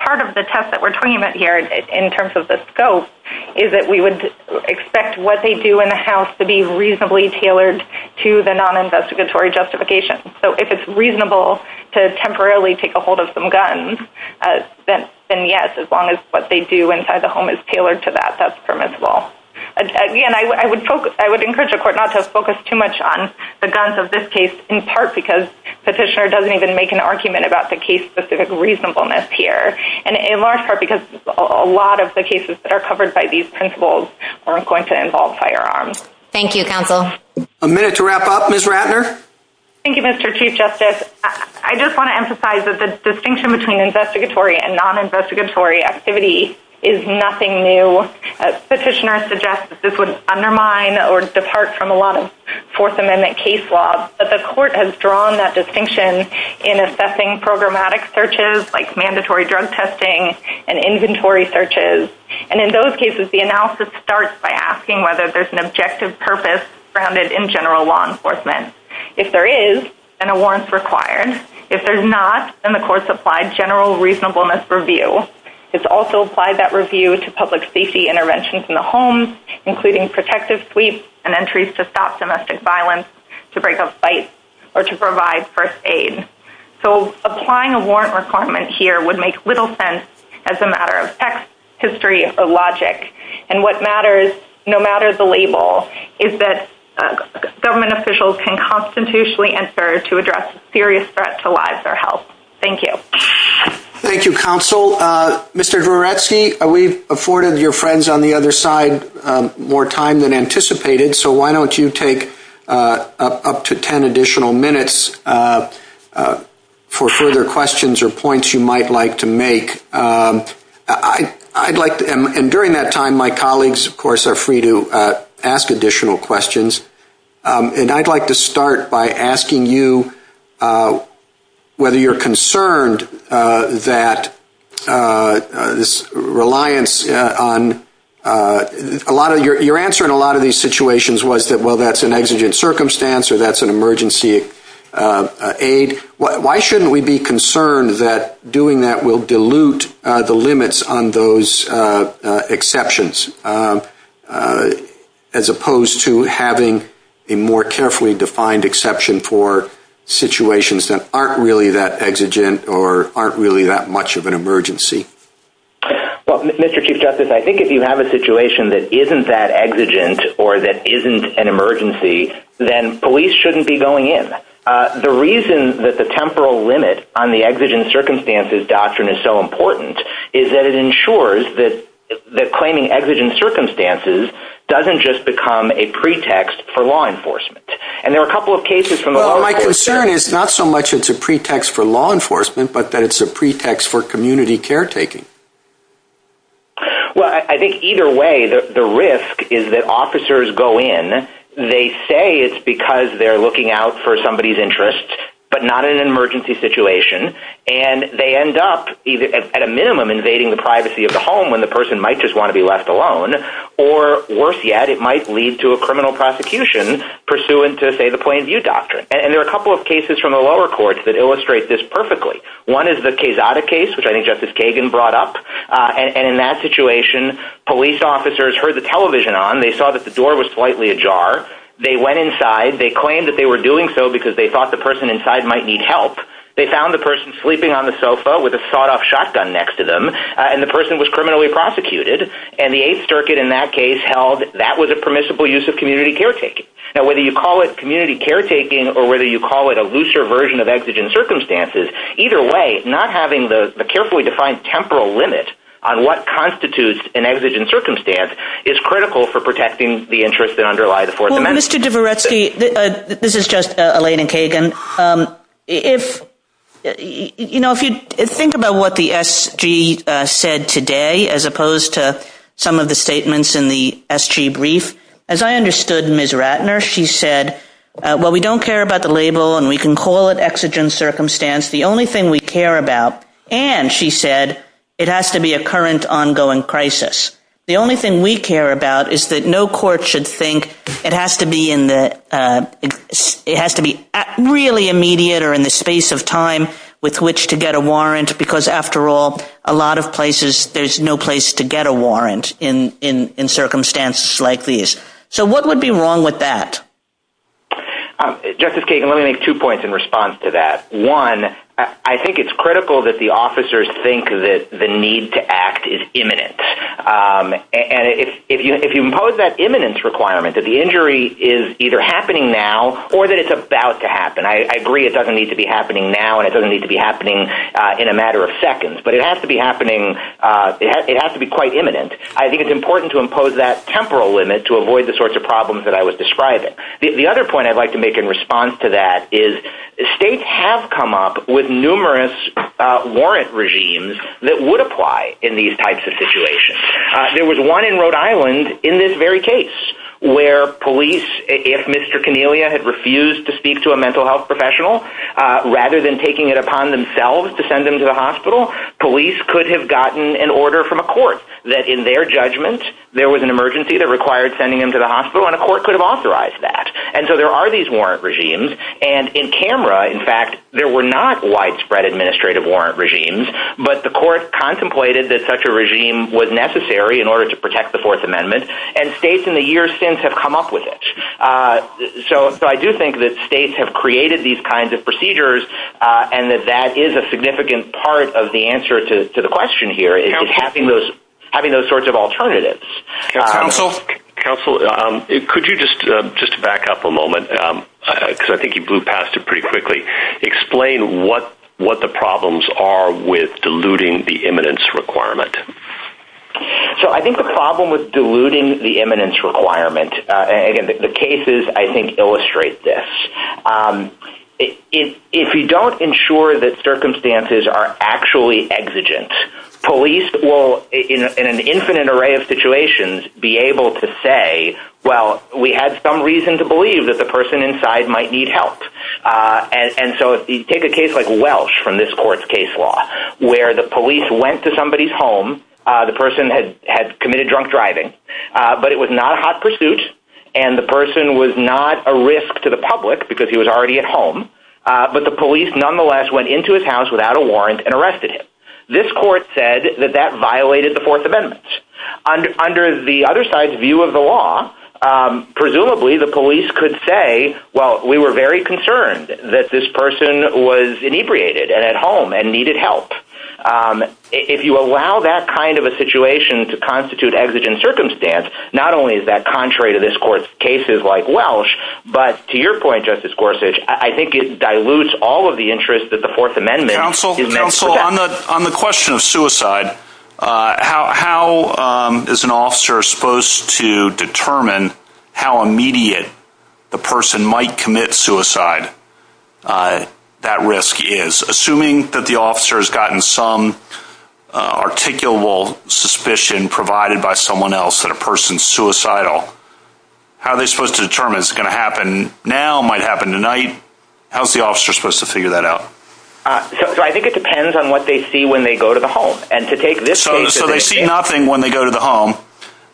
Part of the test that we're talking about here in terms of the scope is that we would expect what they do in the house to be reasonably tailored to the non-investigatory justification. So if it's reasonable to temporarily take a hold of some guns, then yes, as long as what they do inside the home is tailored to that, that's permissible. I would encourage the court not to focus too much on the guns of this case, in part because petitioner doesn't even make an argument about the case-specific reasonableness here. And in large part because a lot of the cases that are covered by these principles are going to involve firearms. Thank you, counsel. A minute to wrap up. Ms. Ratner? Thank you, Mr. Chief Justice. I just want to emphasize that the distinction between investigatory and non-investigatory activity is nothing new. Petitioner suggests that this would undermine or depart from a lot of Fourth Amendment case laws, but the court has drawn that distinction in assessing programmatic searches like mandatory drug testing and inventory searches. And in those cases, the analysis starts by asking whether there's an objective purpose grounded in general law enforcement. If there is, then a warrant's required. If there's not, then the court's applied general reasonableness review. It's also applied that review to public safety interventions in the homes, including protective sleeps and entries to stop domestic violence, to break up fights, or to provide first aid. So, applying a warrant requirement here would make little sense as a matter of text, history, or logic. And what matters, no matter the label, is that government officials can constitutionally answer to address a serious threat to lives or health. Thank you. Thank you, counsel. Mr. Goretsky, we've afforded your friends on the other side more time than anticipated, so why don't you take up to 10 additional minutes for further questions or points you might like to make. And during that time, my colleagues, of course, are free to ask additional questions. And I'd like to start by asking you whether you're concerned that this reliance on a lot of these situations was that, well, that's an exigent circumstance or that's an emergency aid. Why shouldn't we be concerned that doing that will dilute the limits on those exceptions, as opposed to having a more carefully defined exception for situations that aren't really that exigent or aren't really that much of an emergency? Well, Mr. Chief Justice, I think if you have a situation that isn't that exigent or that isn't an emergency, then police shouldn't be going in. The reason that the temporal limit on the exigent circumstances doctrine is so important is that it ensures that claiming exigent circumstances doesn't just become a pretext for law enforcement. And there were a couple of cases from the- Well, my concern is not so much it's a pretext for law enforcement, but that it's a pretext for community caretaking. Well, I think either way, the risk is that officers go in, they say it's because they're looking out for somebody's interest, but not in an emergency situation. And they end up at a minimum invading the privacy of the home when the person might just want to be left alone. Or worse yet, it might lead to a criminal prosecution pursuant to, say, the plain view doctrine. And there are a couple of cases from the lower courts that illustrate this perfectly. One is the Quezada case, which I think Justice Kagan brought up. And in that situation, police officers heard the television on. They saw that the door was slightly ajar. They went inside. They claimed that they were doing so because they thought the person inside might need help. They found the person sleeping on the sofa with a sawed-off shotgun next to them, and the person was criminally prosecuted. And the Eighth Circuit in that case held that was a permissible use of community caretaking. Now, whether you call it community caretaking or whether you call it a looser version of exigent circumstances, either way, not having the carefully defined temporal limit on what constitutes an exigent circumstance is critical for protecting the interests that underlie the Fourth Amendment. Mr. Dvoretsky, this is just Elena Kagan. If you think about what the SG said today as opposed to some of the statements in the SG brief, as I understood Ms. Ratner, she said, well, we don't care about the label and we can call it exigent circumstance. The only thing we care about, and she said, it has to be a current ongoing crisis. The only thing we care about is that no court should think it has to be really immediate or in the space of time with which to get a warrant because, after all, a lot of places, there's no place to get a warrant in circumstances like these. So what would be wrong with that? Justice Kagan, let me make two points in response to that. One, I think it's critical that the officers think that the need to act is imminent. And if you impose that imminence requirement that the injury is either happening now or that it's about to happen, I agree it doesn't need to be happening now and it doesn't need to be happening in a matter of seconds, but it has to be quite imminent. I think it's important to impose that temporal limit to avoid the sorts of problems that I was describing. The other point I'd like to make in response to that is states have come up with numerous warrant regimes that would apply in these types of situations. There was one in Rhode Island in this very case where police, if Mr. Cornelia had refused to speak to a mental health professional, rather than taking it upon themselves to send him to the hospital, police could have gotten an order from a court that in their judgment there was an emergency that required sending him to the hospital and a court could have authorized that. And so there are these warrant regimes. And in camera, in fact, there were not widespread administrative warrant regimes, but the court contemplated that such a regime was necessary in order to protect the Fourth Amendment. And states in the years since have come up with it. So I do think that states have created these kinds of procedures and that that is a significant part of the answer to the question here, is having those sorts of alternatives. GOLDSMITH. Counsel, could you just back up a moment, because I think you blew past it pretty quickly. Explain what the problems are with diluting the eminence requirement. MR. CARROLL. So I think the problem with diluting the eminence requirement, and again, the cases, I think, illustrate this. If you don't ensure that circumstances are actually exigent, police will, in an infinite array of situations, be able to say, well, we had some reason to believe that the person inside might need help. And so if you take a case like Welch from this court's case law, where the police went to somebody's home, the person had committed drunk driving, but it was not a hot pursuit and the person was not a risk to the public because he was already at home, but the police nonetheless went into his house without a warrant and arrested him. This court said that that violated the Fourth Amendment. Under the other side's view of the law, presumably the police could say, well, we were very concerned that this person was inebriated and at home and needed help. If you allow that kind of a situation to constitute exigent circumstance, not only is that contrary to this court's cases like Welch, but to your point, Justice Gorsuch, I think it dilutes all of the interest that the Fourth Amendment is meant to protect. Counsel, on the question of suicide, how is an officer supposed to determine how immediate the person might commit suicide, that risk is? Assuming that the officer has gotten some articulable suspicion provided by someone else that a person's suicidal, how are they supposed to determine it's going to happen now, might happen tonight? How's the officer supposed to figure that out? I think it depends on what they see when they go to the home and to take this case. So they see nothing when they go to the home.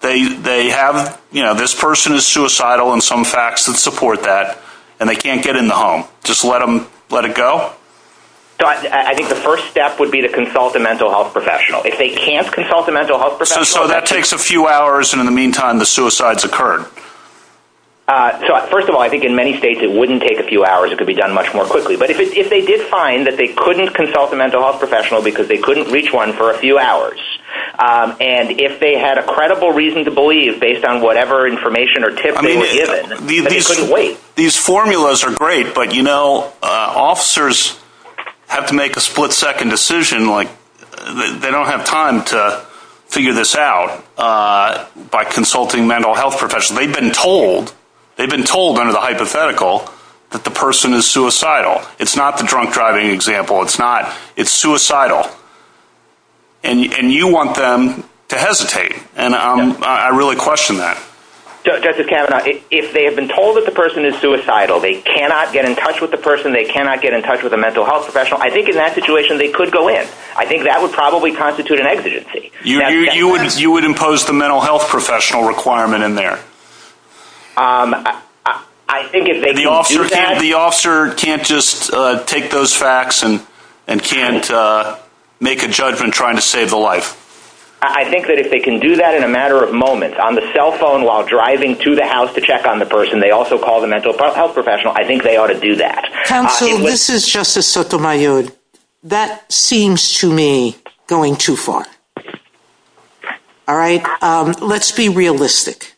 They have, you know, this person is suicidal and some facts that support that and they can't get in the home. Just let them let it go. I think the first step would be to consult a mental health professional. If they can't consult a mental health professional. So that takes a few hours. And in the meantime, the suicides occurred. So first of all, I think in many states, it wouldn't take a few hours. It could be done much more quickly. But if they did find that they couldn't consult a mental health professional because they couldn't reach one for a few hours, and if they had a credible reason to believe based on whatever information or tips they were given, they couldn't wait. These formulas are great, but, you know, officers have to make a split second decision. Like they don't have time to figure this out by consulting mental health professionals. They've been told they've been told under the hypothetical that the person is suicidal. It's not the drunk driving example. It's not. It's suicidal. And you want them to hesitate. And I really question that. Justice Kavanaugh, if they have been told that the person is suicidal, they cannot get in touch with the person. They cannot get in touch with a mental health professional. I think in that situation, they could go in. I think that would probably constitute an exigency. You would impose the mental health professional requirement in there. The officer can't just take those facts and can't make a judgment trying to save a life. I think that if they can do that in a matter of moments on the cell phone while driving to the house to check on the person, they also call the mental health professional. I think they ought to do that. Counselor, this is Justice Sotomayor. That seems to me going too far. All right. Let's be realistic.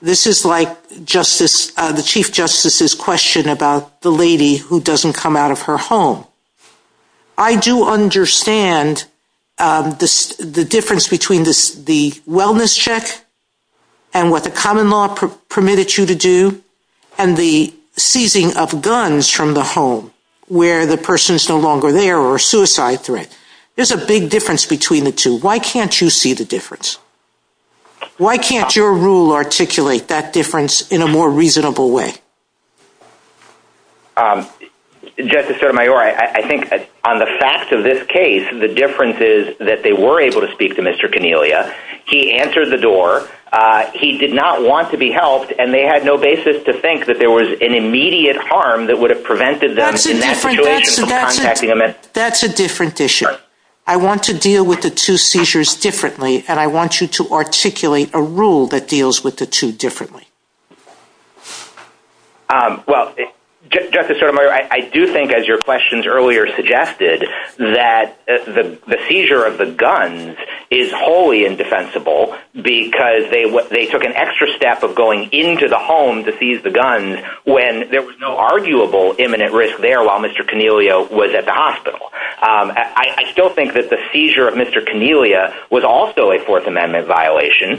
This is like the Chief Justice's question about the lady who doesn't come out of her home. I do understand the difference between the wellness check and what the common law permitted you to do and the seizing of guns from the home where the person is no longer there or a suicide threat. There's a big difference between the two. Why can't you see the difference? Why can't your rule articulate that difference in a more reasonable way? Justice Sotomayor, I think on the facts of this case, the difference is that they were He answered the door. He did not want to be helped, and they had no basis to think that there was an immediate harm that would have prevented them in that situation from contacting him. That's a different issue. I want to deal with the two seizures differently, and I want you to articulate a rule that deals with the two differently. Well, Justice Sotomayor, I do think, as your questions earlier suggested, that the seizure of the guns is wholly indefensible because they took an extra step of going into the home to seize the guns when there was no arguable imminent risk there while Mr. Coniglio was at the hospital. I still think that the seizure of Mr. Coniglio was also a Fourth Amendment violation,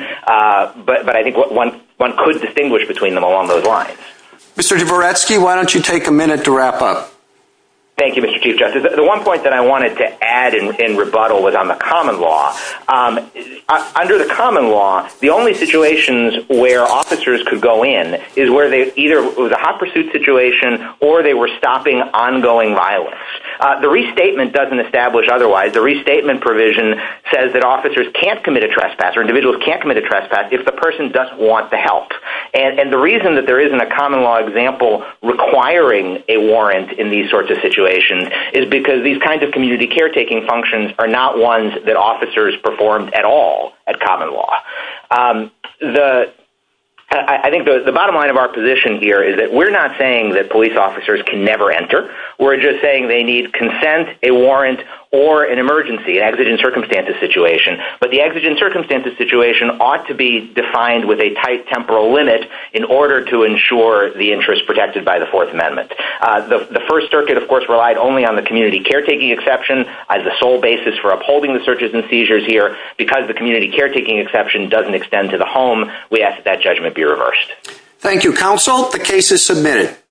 but I think one could distinguish between them along those lines. Mr. Dvoretsky, why don't you take a minute to wrap up? Thank you, Mr. Chief Justice. The one point that I wanted to add and rebuttal was on the common law. Under the common law, the only situations where officers could go in is where they either were in a hot pursuit situation or they were stopping ongoing violence. The restatement doesn't establish otherwise. The restatement provision says that officers can't commit a trespass or individuals can't commit a trespass if the person doesn't want the help. The reason that there isn't a common law example requiring a warrant in these sorts of situations is because these kinds of community caretaking functions are not ones that officers performed at all at common law. I think the bottom line of our position here is that we're not saying that police officers can never enter. We're just saying they need consent, a warrant, or an emergency, an exigent circumstances situation. But the exigent circumstances situation ought to be defined with a tight temporal limit in order to ensure the interest protected by the Fourth Amendment. The First Circuit, of course, relied only on the community caretaking exception as the sole basis for upholding the searches and seizures here. Because the community caretaking exception doesn't extend to the home, we ask that judgment be reversed. Thank you, counsel. The case is submitted.